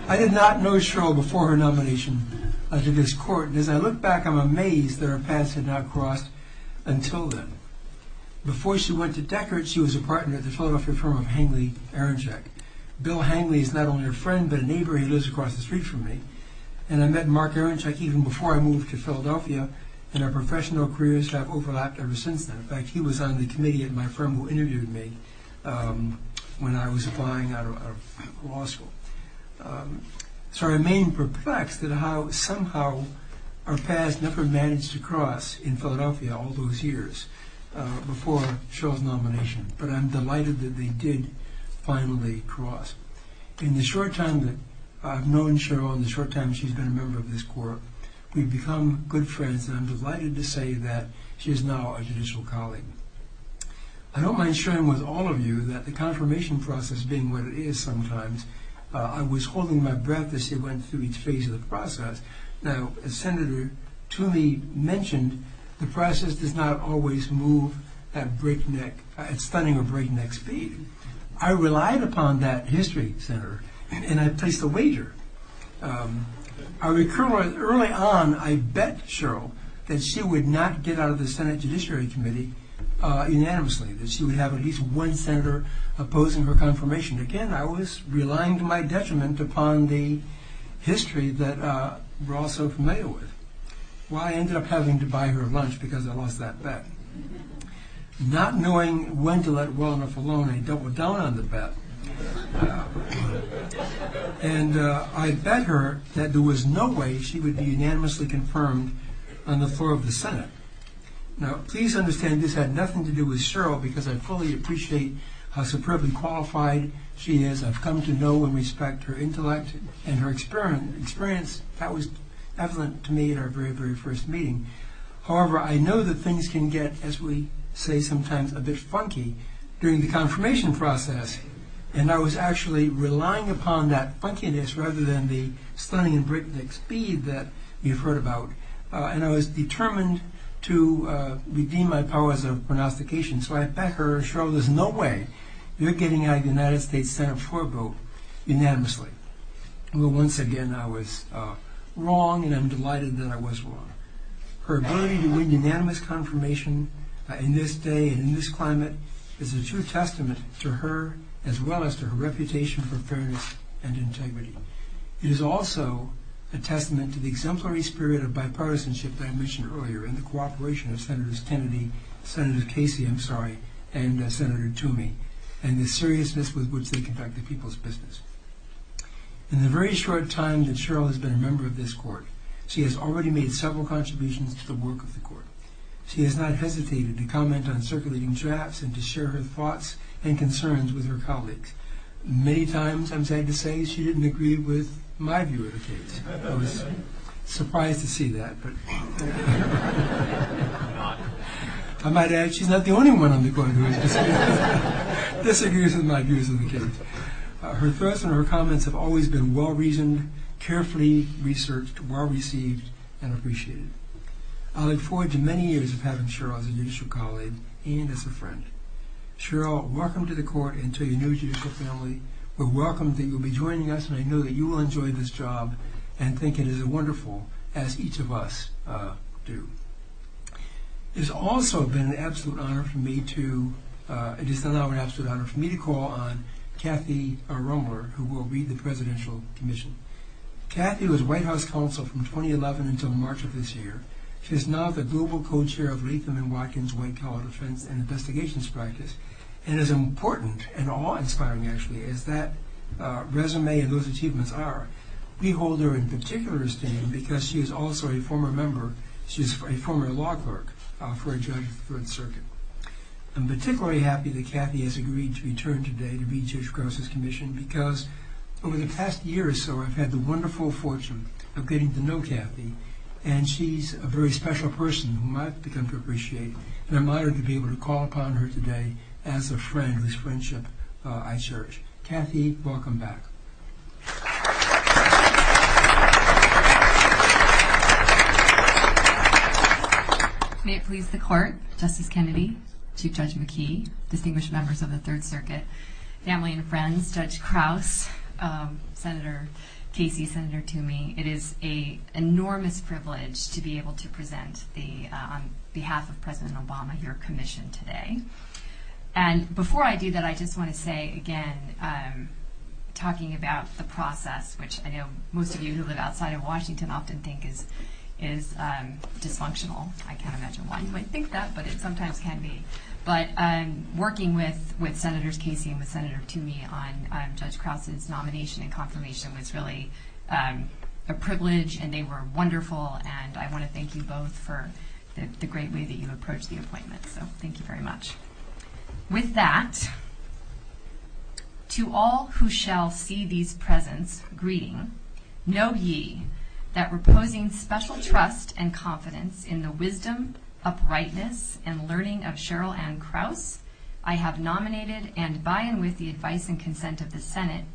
I did not know Cheryl before her nomination to this court, and as I look back, I'm amazed that our paths have not crossed until then. Before she went to Deckard, she was a partner at the Philadelphia firm of Hangley Aronchak. Bill Hangley is not only a friend, but a neighbor who lives across the street from me, and I met Mark Aronchak even before I moved to Philadelphia, and our professional careers have overlapped ever since then. In fact, he was on the committee at my firm who interviewed me when I was applying out of law school. So I remain perplexed at how somehow our paths never managed to cross in Philadelphia all those years before Cheryl's nomination, but I'm delighted that they did finally cross. In the short time that I've known Cheryl and the short time she's been a member of this court, we've become good friends, and I'm delighted to say that she is now a judicial colleague. I don't want to share with all of you that the confirmation process being what it is sometimes, I was holding my breath as she went through each phase of the process. Now, as Senator Toomey mentioned, the process does not always move at spending a breakneck speed. I relied upon that history center, and I placed a wager. Early on, I bet Cheryl that she would not get out of the Senate Judiciary Committee unanimously, that she would have at least one senator opposing her confirmation. Again, I was relying to my detriment upon the history that we're all so familiar with. Well, I ended up having to buy her lunch because I lost that bet. Not knowing when to let wellness alone, I doubled down on the bet, and I bet her that there was no way she would be unanimously confirmed on the floor of the Senate. Now, please understand this had nothing to do with Cheryl because I fully appreciate how superbly qualified she is. I've come to know and respect her intellect and her experience. That was evident to me in our very, very first meeting. However, I know that things can get, as we say sometimes, a bit funky during the confirmation process, and I was actually relying upon that funkiness rather than the stunning breakneck speed that you've heard about, and I was determined to redeem my powers of pronostication. So I bet her, Cheryl, there's no way you're getting out of the United States Senate floor vote unanimously. Well, once again, I was wrong, and I'm delighted that I was wrong. Her ability to win unanimous confirmation in this day and in this climate is a true testament to her, as well as to her reputation for fairness and integrity. It is also a testament to the exemplary spirit of bipartisanship that I mentioned earlier, and the cooperation of Senators Kennedy, Senator Casey, I'm sorry, and Senator Toomey, and the seriousness with which they connect to people's business. In the very short time that Cheryl has been a member of this court, she has already made several contributions to the work of the court. She has not hesitated to comment on circulating chats and to share her thoughts and concerns with her colleagues. Many times, I'm sad to say, she didn't agree with my view of the case. I was surprised to see that. I might add, she's not the only one on the court who disagrees with my view of the case. Her thoughts and her comments have always been well-reasoned, carefully researched, well-received, and appreciated. I look forward to many years of having Cheryl as a judicial colleague and as a friend. Cheryl, welcome to the court and to your new judicial family. We welcome that you will be joining us, and I know that you will enjoy this job and think it is wonderful, as each of us do. It has also been an absolute honor for me to call on Kathy Romer, who will lead the Presidential Commission. Kathy was White House Counsel from 2011 until March of this year. She is now the Global Co-Chair of Latham & Watkins White Collar Defense and Investigations Practice and is as important and awe-inspiring, actually, as that resume and those achievements are. We hold her in particular esteem because she is also a former member, she is a former law clerk for a judge of the Third Circuit. I'm particularly happy that Kathy has agreed to return today to lead the Judicial Counsel's Commission because over the past year or so, I've had the wonderful fortune of getting to know Kathy and she's a very special person whom I've become to appreciate. I'm honored to be able to call upon her today as a friend whose friendship I cherish. Kathy, welcome back. May it please the Court, Justice Kennedy, Chief Judge McKee, distinguished members of the Third Circuit, family and friends, Judge Krauss, Senator Casey, Senator Toomey, it is an enormous privilege to be able to present on behalf of President Obama your commission today. And before I do that, I just want to say, again, talking about the process, which I know most of you who live outside of Washington often think is dysfunctional. I can't imagine why you would think that, but it sometimes can be. But working with Senators Casey and Senator Toomey on Judge Krauss' nomination and confirmation was really a privilege and they were wonderful, and I want to thank you both for the great way that you approached the appointment. So thank you very much. With that, to all who shall see these presents greeting, know ye that reposing special trust and confidence in the wisdom, uprightness, and learning of Cheryl Ann Krauss, I have nominated and, by and with the advice and consent of the Senate,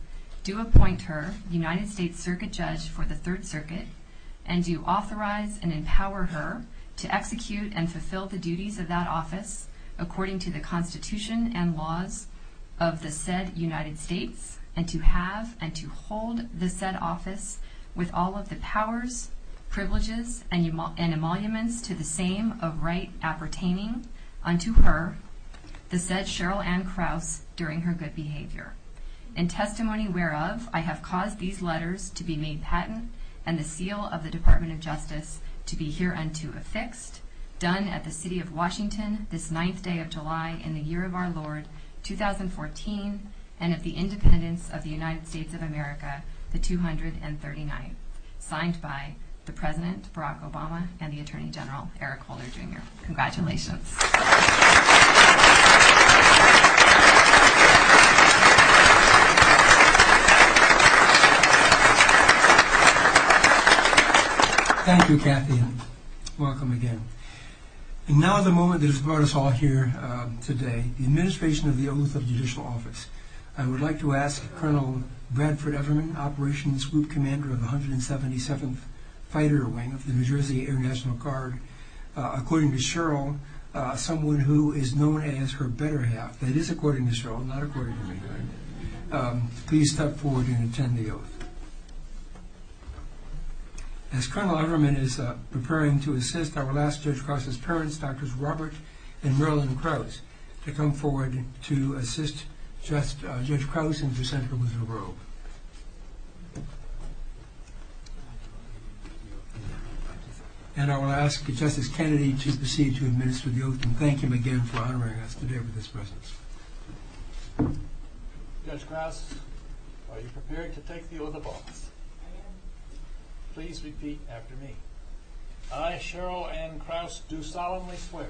do appoint her United States Circuit Judge for the Third Circuit and do authorize and empower her to execute and fulfill the duties of that office according to the Constitution and laws of the said United States and to have and to hold the said office with all of the powers, privileges, and emoluments to the same of right appertaining unto her the said Cheryl Ann Krauss during her good behavior. In testimony whereof, I have caused these letters to be made patent and the seal of the Department of Justice to be hereunto affixed, done at the City of Washington this ninth day of July in the year of our Lord, 2014, and at the independence of the United States of America, the 239th. Signed by the President, Barack Obama, and the Attorney General, Eric Holder, Jr. Congratulations. Applause Thank you, Kathy. Welcome again. And now the moment that has brought us all here today, the administration of the Oath of Judicial Office. I would like to ask Colonel Bradford Everman, Operations Group Commander of the 177th Fighter Wing of the New Jersey Air National Guard, according to Cheryl, someone who is known as her better half. That is according to Cheryl, not according to me. Please step forward and attend the oath. As Colonel Everman is preparing to assist our last Judge Krauss' parents, Drs. Robert and Marilyn Krauss, to come forward to assist Judge Krauss in her sentence in the world. And I will ask Justice Kennedy to proceed to administer the oath and thank him again for honoring us today with his presence. Judge Krauss, are you prepared to take the oath of office? Please repeat after me. I, Cheryl Anne Krauss, do solemnly swear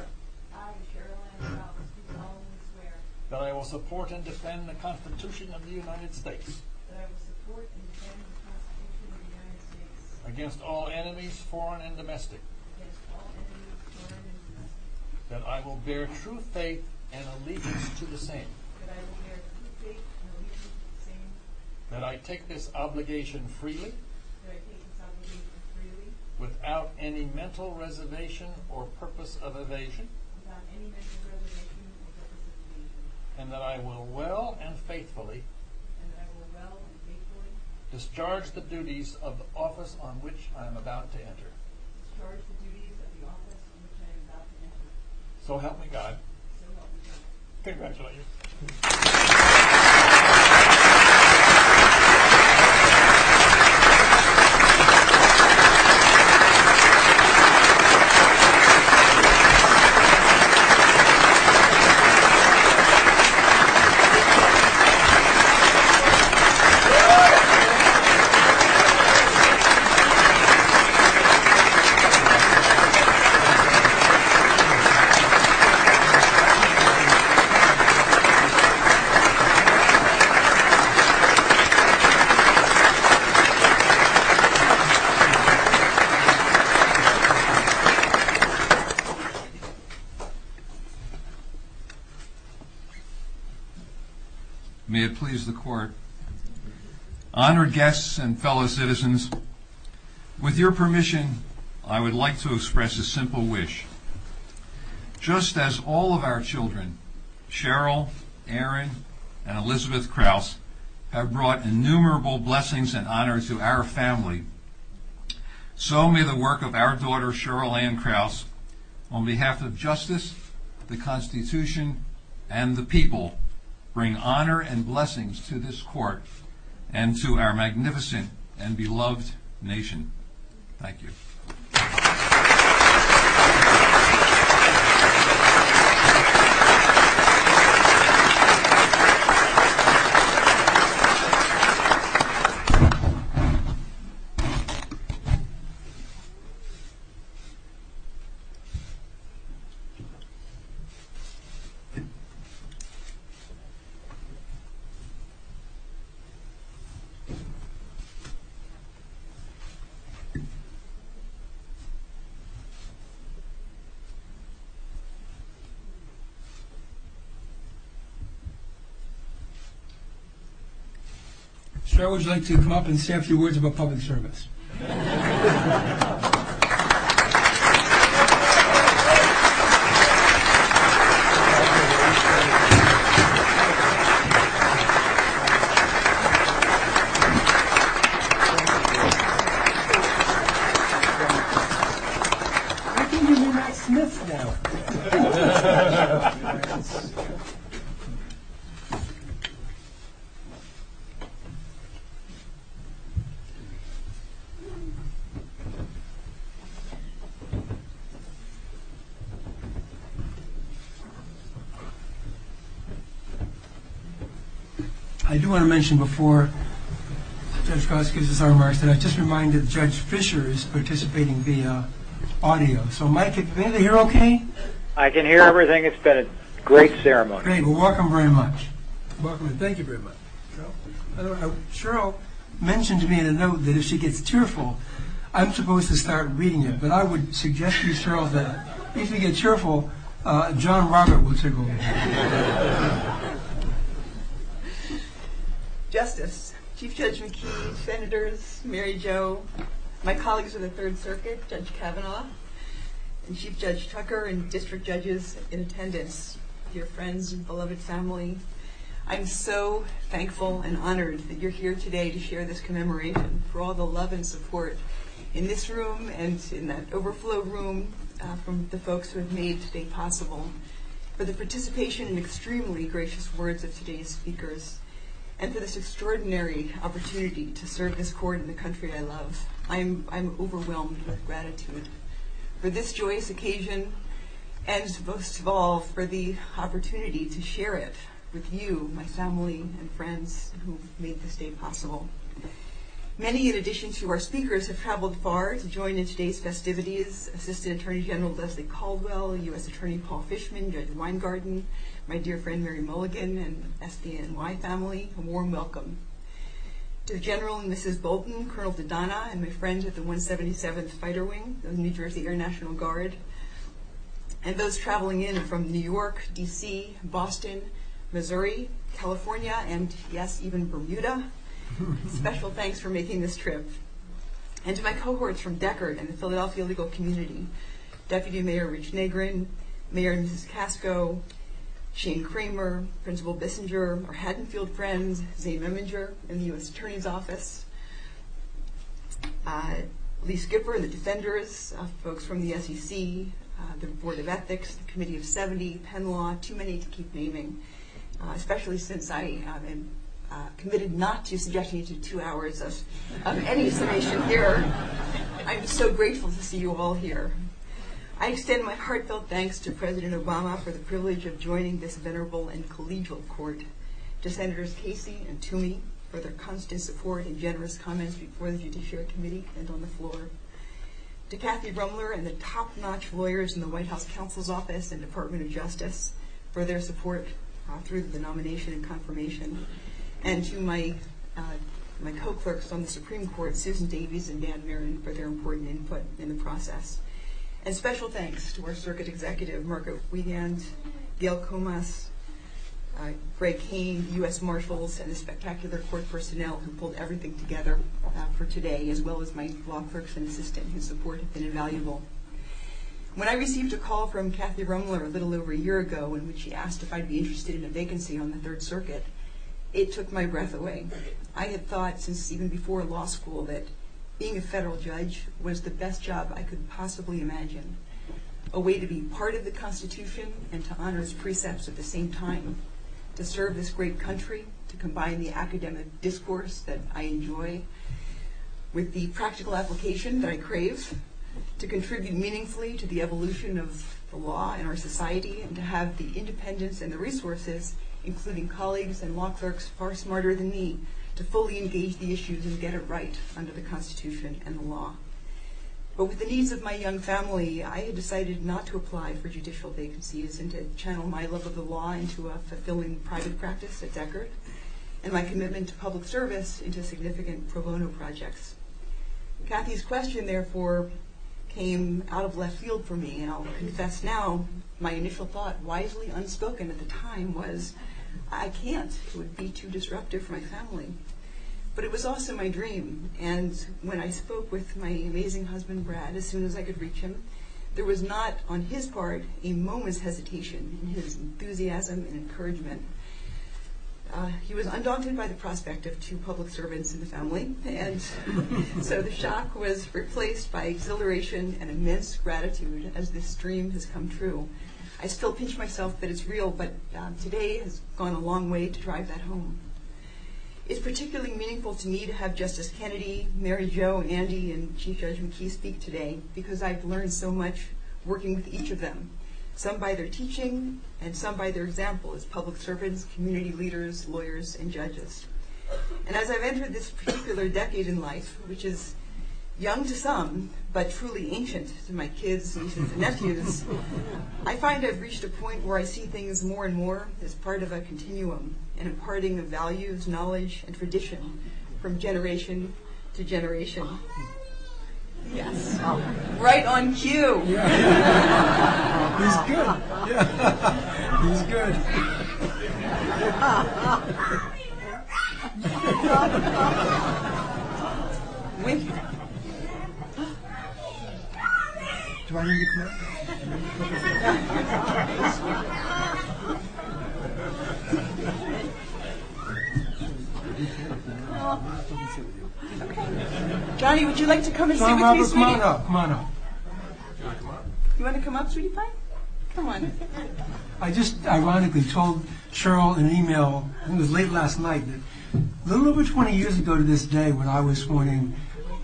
that I will support and defend the Constitution of the United States against all enemies, foreign and domestic, that I will bear true faith and allegiance to the same, that I take this obligation freely without any mental reservation or purpose of evasion, and that I will well and faithfully discharge the duties of the office on which I am about to enter. So help me God. Congratulations. May it please the Court. Honored guests and fellow citizens, with your permission, I would like to express a simple wish. Just as all of our children, Cheryl, Aaron, and Elizabeth Krauss, have brought innumerable blessings and honor to our family, so may the work of our daughter, Cheryl Anne Krauss, on behalf of justice, the Constitution, and the people, bring honor and blessings to this Court and to our magnificent and beloved nation. Thank you. Cheryl would like to come up and say a few words about public service. Thank you very much. Thank you. I do want to mention before Judge Krauss gives his remarks that I just reminded Judge Fischer is participating via audio. So Mike, can you hear okay? I can hear everything. It's been a great ceremony. Great. Well, welcome very much. Welcome. Thank you very much. Cheryl mentioned to me in a note that if she gets cheerful, I'm supposed to start reading it, but I would suggest to Cheryl that if she gets cheerful, John Robert will take over. Justice, Chief Judge McKee, Senators, Mary Jo, my colleagues of the Third Circuit, Judge Kavanaugh, and Chief Judge Tucker and District Judges in attendance, your friends and beloved family, I'm so thankful and honored that you're here today to share this commemoration for all the love and support in this room and in that overflow room from the folks who have made this day possible. For the participation and extremely gracious words of today's speakers and for this extraordinary opportunity to serve this court in the country I love, I'm overwhelmed with gratitude for this joyous occasion and most of all for the opportunity to share it with you, my family and friends who made this day possible. Many in addition to our speakers have traveled far to join in today's festivities, Assistant Attorney General Leslie Caldwell, U.S. Attorney Paul Fishman, Judge Weingarten, my dear friend Mary Mulligan and the SCNY family, a warm welcome to General and Mrs. Bolton, Colonel Dodonna and my friends at the 177th Fighter Wing of the New Jersey Air National Guard and those traveling in from New York, D.C., Boston, Missouri, California, and yes, even Bermuda. Special thanks for making this trip. And to my cohorts from Deckard and the Philadelphia legal community, Deputy Mayor Rich Nagren, Mayor and Mrs. Casco, Shane Kramer, Principal Bissinger, our Haddonfield friends, Dave Iminger and the U.S. Attorney's Office, Lee Skipper and the Defenders, folks from the SEC, the Board of Ethics, Committee of 70, Penn Law, too many to keep naming, especially since I have been committed not to suggesting two hours of any information here. I'm so grateful to see you all here. I extend my heartfelt thanks to President Obama for the privilege of joining this venerable and collegial court, to Senators Casey and Toomey for their constant support and generous comments before the Judiciary Committee and on the floor, to Kathy Rumler and the top-notch lawyers in the White House Counsel's Office and Department of Justice for their support through the nomination and confirmation, and to my co-clerks from the Supreme Court, Susan Davies and Dan Maron, for their important input in the process. And special thanks to our Circuit Executive, Mark O'Brien, Gail Comas, Greg Kane, U.S. Marshals, and the spectacular court personnel who pulled everything together for today, as well as my law clerks and assistants, whose support has been invaluable. When I received a call from Kathy Rumler a little over a year ago in which she asked if I'd be interested in a vacancy on the Third Circuit, it took my breath away. I had thought since even before law school that being a federal judge was the best job I could possibly imagine, a way to be part of the Constitution and to honor its precepts at the same time, to serve this great country, to combine the academic discourse that I enjoy with the practical application that I crave, to contribute meaningfully to the evolution of the law in our society, and to have the independence and the resources, including colleagues and law clerks far smarter than me, to fully engage the issues and get it right under the Constitution and the law. But with the needs of my young family, I had decided not to apply for judicial vacancies and to channel my love of the law into a fulfilling private practice at Deckard, and my commitment to public service into significant pro bono projects. Kathy's question, therefore, came out of left field for me, and I'll confess now, my initial thought, wisely unspoken at the time, was, I can't, this would be too disruptive for my family. But it was also my dream, and when I spoke with my amazing husband, Brad, as soon as I could reach him, there was not, on his part, a moment's hesitation in his enthusiasm and encouragement. He was undaunted by the prospect of two public servants in the family, and so the shock was replaced by exhilaration and immense gratitude as this dream has come true. I still pinch myself that it's real, but today has gone a long way to drive that home. It's particularly meaningful to me to have Justice Kennedy, Mary Jo, Andy, and Chief Judge McKee speak today, because I've learned so much working with each of them, some by their teaching, and some by their example as public servants, community leaders, lawyers, and judges. And as I've entered this particular decade in life, which is young to some, but truly ancient to my kids, nieces, and nephews, I find I've reached a point where I see things more and more as part of a continuum, an imparting of values, knowledge, and tradition from generation to generation. Right on cue! Yeah. Good. Yeah. Good. Daddy, would you like to come in here and meet me? Come on up, come on up. You want to come up, sweetie pie? Come on. I just ironically told Cheryl in an email, it was late last night, but a little over 20 years ago to this day when I was sworn in,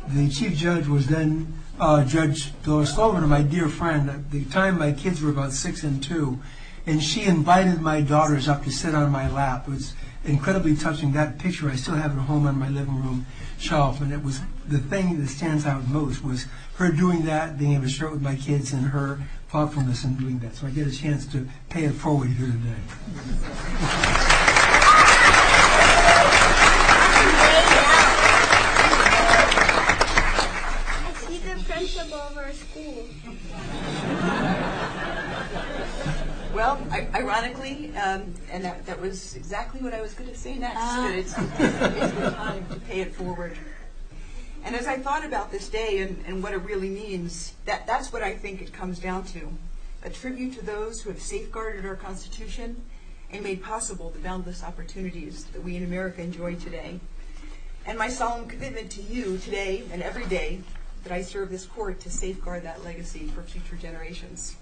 the Chief Judge was then Judge Bill Stolzman, my dear friend. At the time, my kids were about six and two, and she invited my daughters up to sit on my lap. It was incredibly touching, that picture I still have at home on my living room shelf. And it was the thing that stands out most was her doing that, being able to share with my kids and her thoughtfulness in doing that. So I get a chance to pay it forward to her today. Thank you. Well, ironically, and that was exactly what I was going to say next, to pay it forward. And as I thought about this day and what it really means, that's what I think it comes down to, a tribute to those who have safeguarded our Constitution and made possible the boundless opportunities that we in America enjoy today. And my solemn commitment to you today and every day that I serve this court to safeguard that legacy for future generations.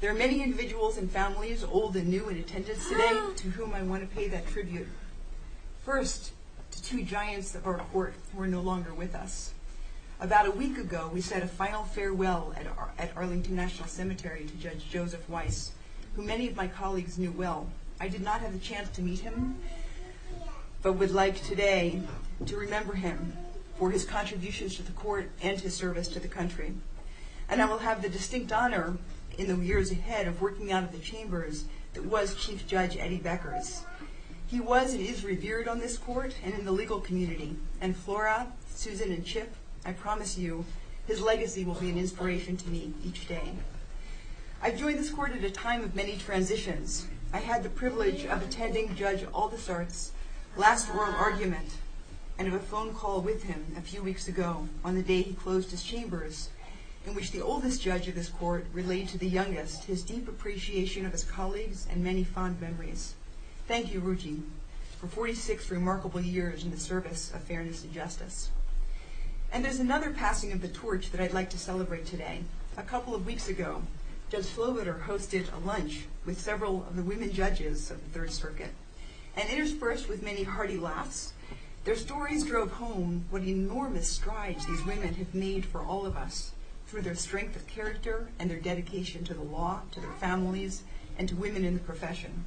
There are many individuals and families old and new in attendance today to whom I want to pay that tribute. First, the two giants of our court who are no longer with us. About a week ago, we said a final farewell at Arlington National Cemetery to Judge Joseph Weiss, who many of my colleagues knew well. I did not have a chance to meet him, but would like today to remember him for his contributions to the court and his service to the country. And I will have the distinct honor in the years ahead of working out of the chambers that was Chief Judge Eddie Becker. He was and is revered on this court and in the legal community. And Flora, Susan, and Chip, I promise you, his legacy will be an inspiration to me each day. I joined this court at a time of many transitions. I had the privilege of attending Judge Aldisarth's last oral argument and of a phone call with him a few weeks ago on the day he closed his chambers, in which the oldest judge of his court relayed to the youngest his deep appreciation of his colleagues and many fond memories. Thank you, Ruchi, for 46 remarkable years in the service of fairness and justice. And there's another passing of the torch that I'd like to celebrate today. A couple of weeks ago, Judge Slobiter hosted a lunch with several of the women judges of the Third Circuit, and interspersed with many hearty laughs, their stories drove home what enormous strides these women have made for all of us through their strength of character and their dedication to the law, to their families, and to women in the profession.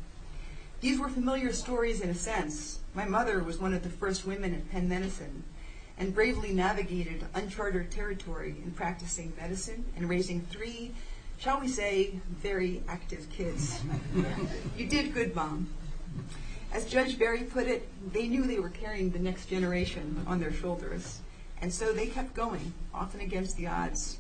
These were familiar stories in a sense. My mother was one of the first women at Penn Medicine and bravely navigated uncharted territory in practicing medicine and raising three, shall we say, very active kids. You did good, Mom. As Judge Berry put it, they knew they were carrying the next generation on their shoulders, and so they kept going, often against the odds.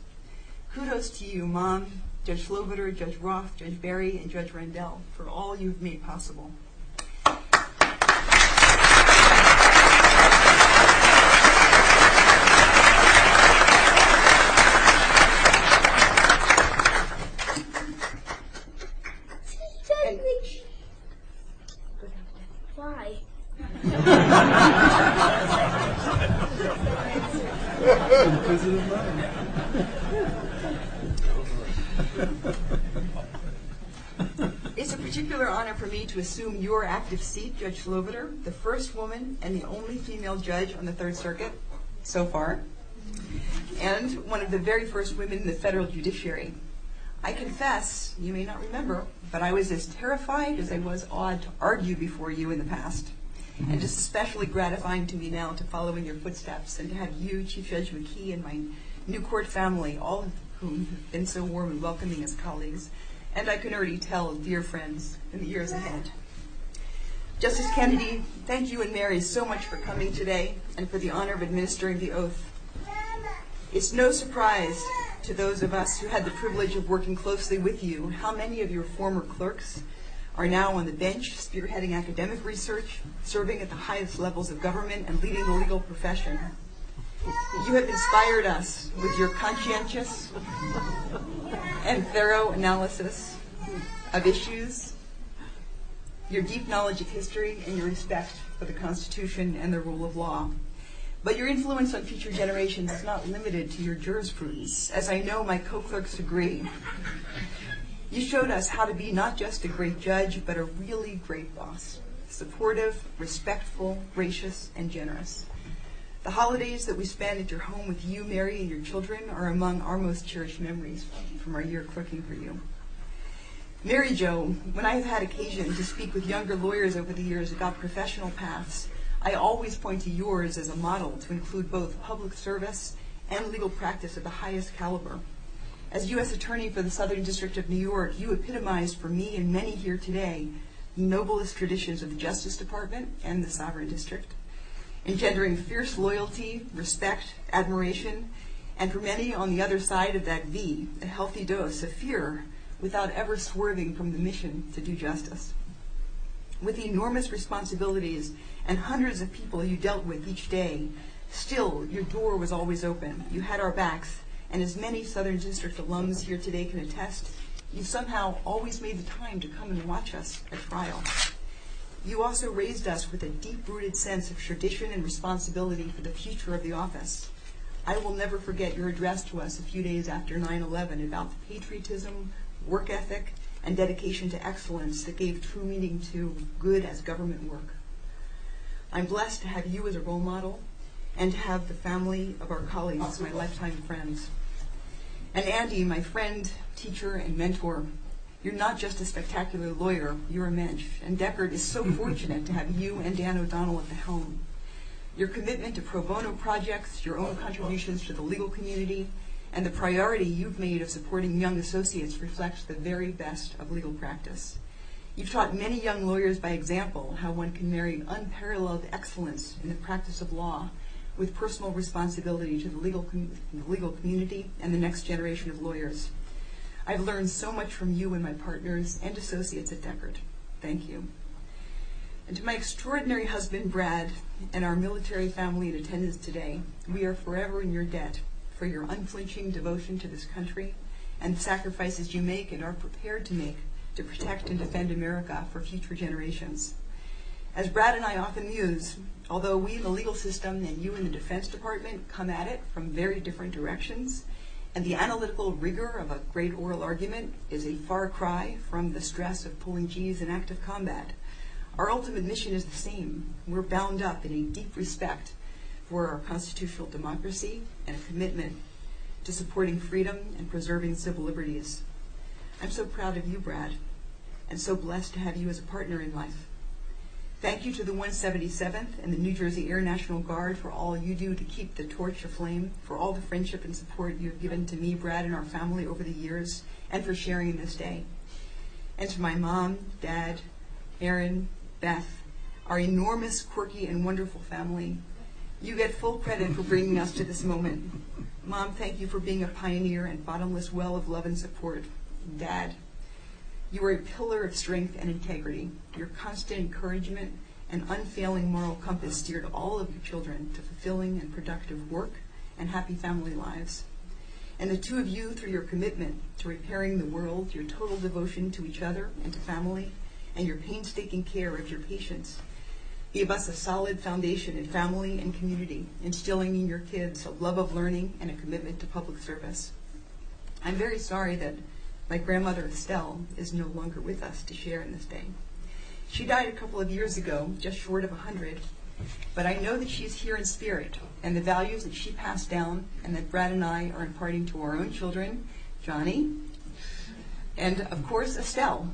Kudos to you, Mom, Judge Slobiter, Judge Roth, Judge Berry, and Judge Rendell, for all you've made possible. Thank you. Why? Why? It's a particular honor for me to assume your active seat, Judge Slobiter, the first woman and the only female judge on the Third Circuit so far, and one of the very first women in the federal judiciary. I confess, you may not remember, but I was as terrified as I was awed to argue before you in the past. It's especially gratifying to me now to follow in your footsteps and to have you, Chief Judge McKee, and my New Court family, all of whom have been so warm and welcoming as colleagues, and I can already tell dear friends in the years ahead. Justice Kennedy, thank you and Mary so much for coming today and for the honor of administering the oath. It's no surprise to those of us who had the privilege of working closely with you on how many of your former clerks are now on the bench spearheading academic research, serving at the highest levels of government, and leading the legal profession. You have inspired us with your conscientious and thorough analysis of issues, your deep knowledge of history, and your respect for the Constitution and the rule of law. But your influence on future generations is not limited to your jurisprudence. As I know, my co-clerks agreed. You showed us how to be not just a great judge, but a really great boss, supportive, respectful, gracious, and generous. The holidays that we spend at your home with you, Mary, and your children are among our most cherished memories from our year at Crooking for You. Mary Jo, when I have had occasions to speak with younger lawyers over the years about professional paths, I always point to yours as a model to include both public service and legal practice at the highest caliber. As U.S. Attorney for the Southern District of New York, you epitomize for me and many here today the noblest traditions of the Justice Department and the Sovereign District, engendering fierce loyalty, respect, admiration, and for many on the other side of that V, a healthy dose of fear without ever swerving from the mission to do justice. With the enormous responsibilities and hundreds of people you dealt with each day, still your door was always open, you had our backs, and as many Southern District alums here today can attest, you somehow always made the time to come and watch us and smile. You also raised us with a deep-rooted sense of tradition and responsibility for the future of the office. I will never forget your address to us a few days after 9-11 about patriotism, work ethic, and dedication to excellence that gave true meaning to good at government work. I'm blessed to have you as a role model and to have the family of our colleagues, my lifetime friends, and Andy, my friend, teacher, and mentor. You're not just a spectacular lawyer, you're a menge, and Deckard is so fortunate to have you and Dan O'Donnell at the helm. Your commitment to pro bono projects, your own contributions to the legal community, and the priority you've made of supporting young associates reflects the very best of legal practice. You've taught many young lawyers by example how one can marry unparalleled excellence in the practice of law with personal responsibility to the legal community and the next generation of lawyers. I've learned so much from you and my partners and associates at Deckard. Thank you. And to my extraordinary husband, Brad, and our military family in attendance today, we are forever in your debt for your unflinching devotion to this country and sacrifices you make and are prepared to make to protect and defend America for future generations. As Brad and I often use, although we in the legal system and you in the defense department come at it from very different directions, and the analytical rigor of a great oral argument is a far cry from the stress of pouring cheese in active combat, our ultimate mission is the same. We're bound up in a deep respect for our constitutional democracy and commitment to supporting freedom and preserving civil liberties. I'm so proud of you, Brad, and so blessed to have you as a partner in life. Thank you to the 177th and the New Jersey Air National Guard for all you do to keep the torch aflame, for all the friendship and support you've given to me, Brad, and our family over the years, and for sharing this day. And to my mom, dad, Erin, Beth, our enormous, quirky, and wonderful family, you get full credit for bringing us to this moment. Mom, thank you for being a pioneer and bottomless well of love and support. Dad, you were a pillar of strength and integrity, your constant encouragement and unfailing moral compass geared all of the children to fulfilling and productive work and happy family lives. And the two of you, through your commitment to repairing the world, your total devotion to each other and family, and your painstaking care of your patients, gave us a solid foundation in family and community, instilling in your kids a love of learning and a commitment to public service. I'm very sorry that my grandmother, Estelle, is no longer with us to share in this day. She died a couple of years ago, just short of 100, but I know that she's here in spirit, and the values that she passed down and that Brad and I are imparting to our own children, Johnny, and, of course, Estelle,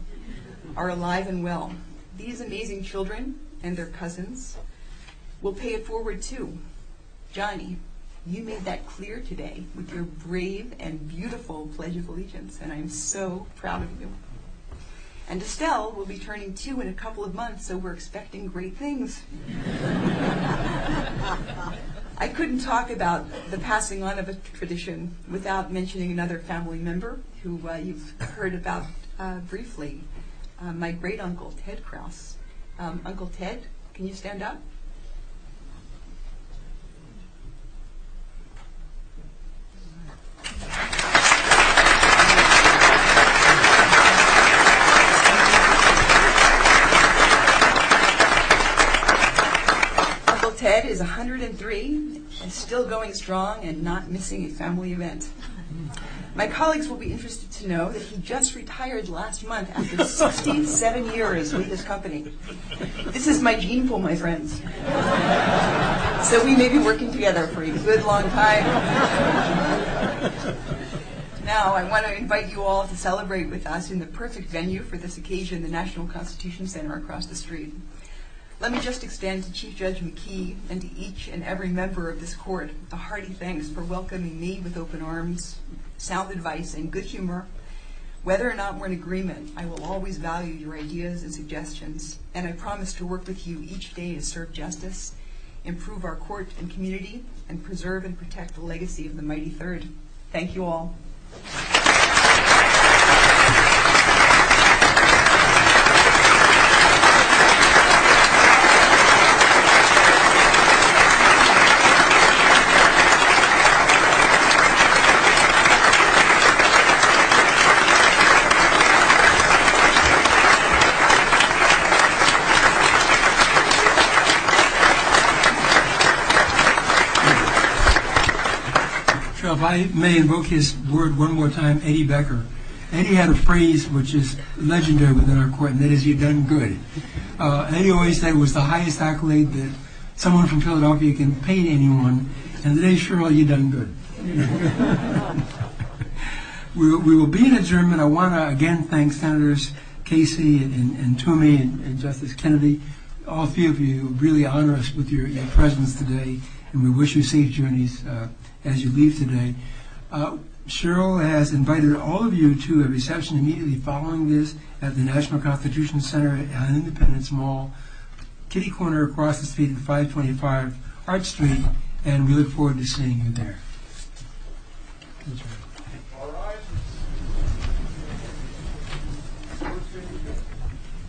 are alive and well. These amazing children and their cousins will pay it forward, too. Johnny, you made that clear today with your brave and beautiful pledge of allegiance, and I'm so proud of you. And Estelle will be turning two in a couple of months, so we're expecting great things. I couldn't talk about the passing on of this tradition without mentioning another family member who you've heard about briefly, my great uncle, Ted Krause. Uncle Ted, can you stand up? Uncle Ted is 103 and still going strong and not missing a family event. My colleagues will be interested to know that he just retired last month after 67 years with this company. This is my gene pool, my friends. So we may be working together for a good long time. Now I want to invite you all to celebrate with us in the perfect venue for this occasion, the National Constitution Center across the street. Let me just extend to Chief Judge McKee and to each and every member of this court a hearty thanks for welcoming me with open arms, sound advice, and good humor. Whether or not we're in agreement, I will always value your ideas and suggestions, and I promise to work with you each day to serve justice, improve our courts and community, and preserve and protect the legacy of the Mighty Third. Thank you all. Thank you. I may invoke his word one more time. Amy Becker, Amy had a phrase which is legendary within our court. That is, you've done good. Amy always said it was the highest accolade that someone from Philadelphia can pay anyone. And today, Cheryl, you've done good. We will be in adjournment. I want to again thank Senators Casey and Toomey and Justice Kennedy, all three of you who really honor us with your presence today, and we wish you safe journeys as you leave today. Cheryl has invited all of you to a reception immediately following this at the National Constitution Center at Independence Mall, kitty corner across the street at 525 Hart Street, and we look forward to seeing you there.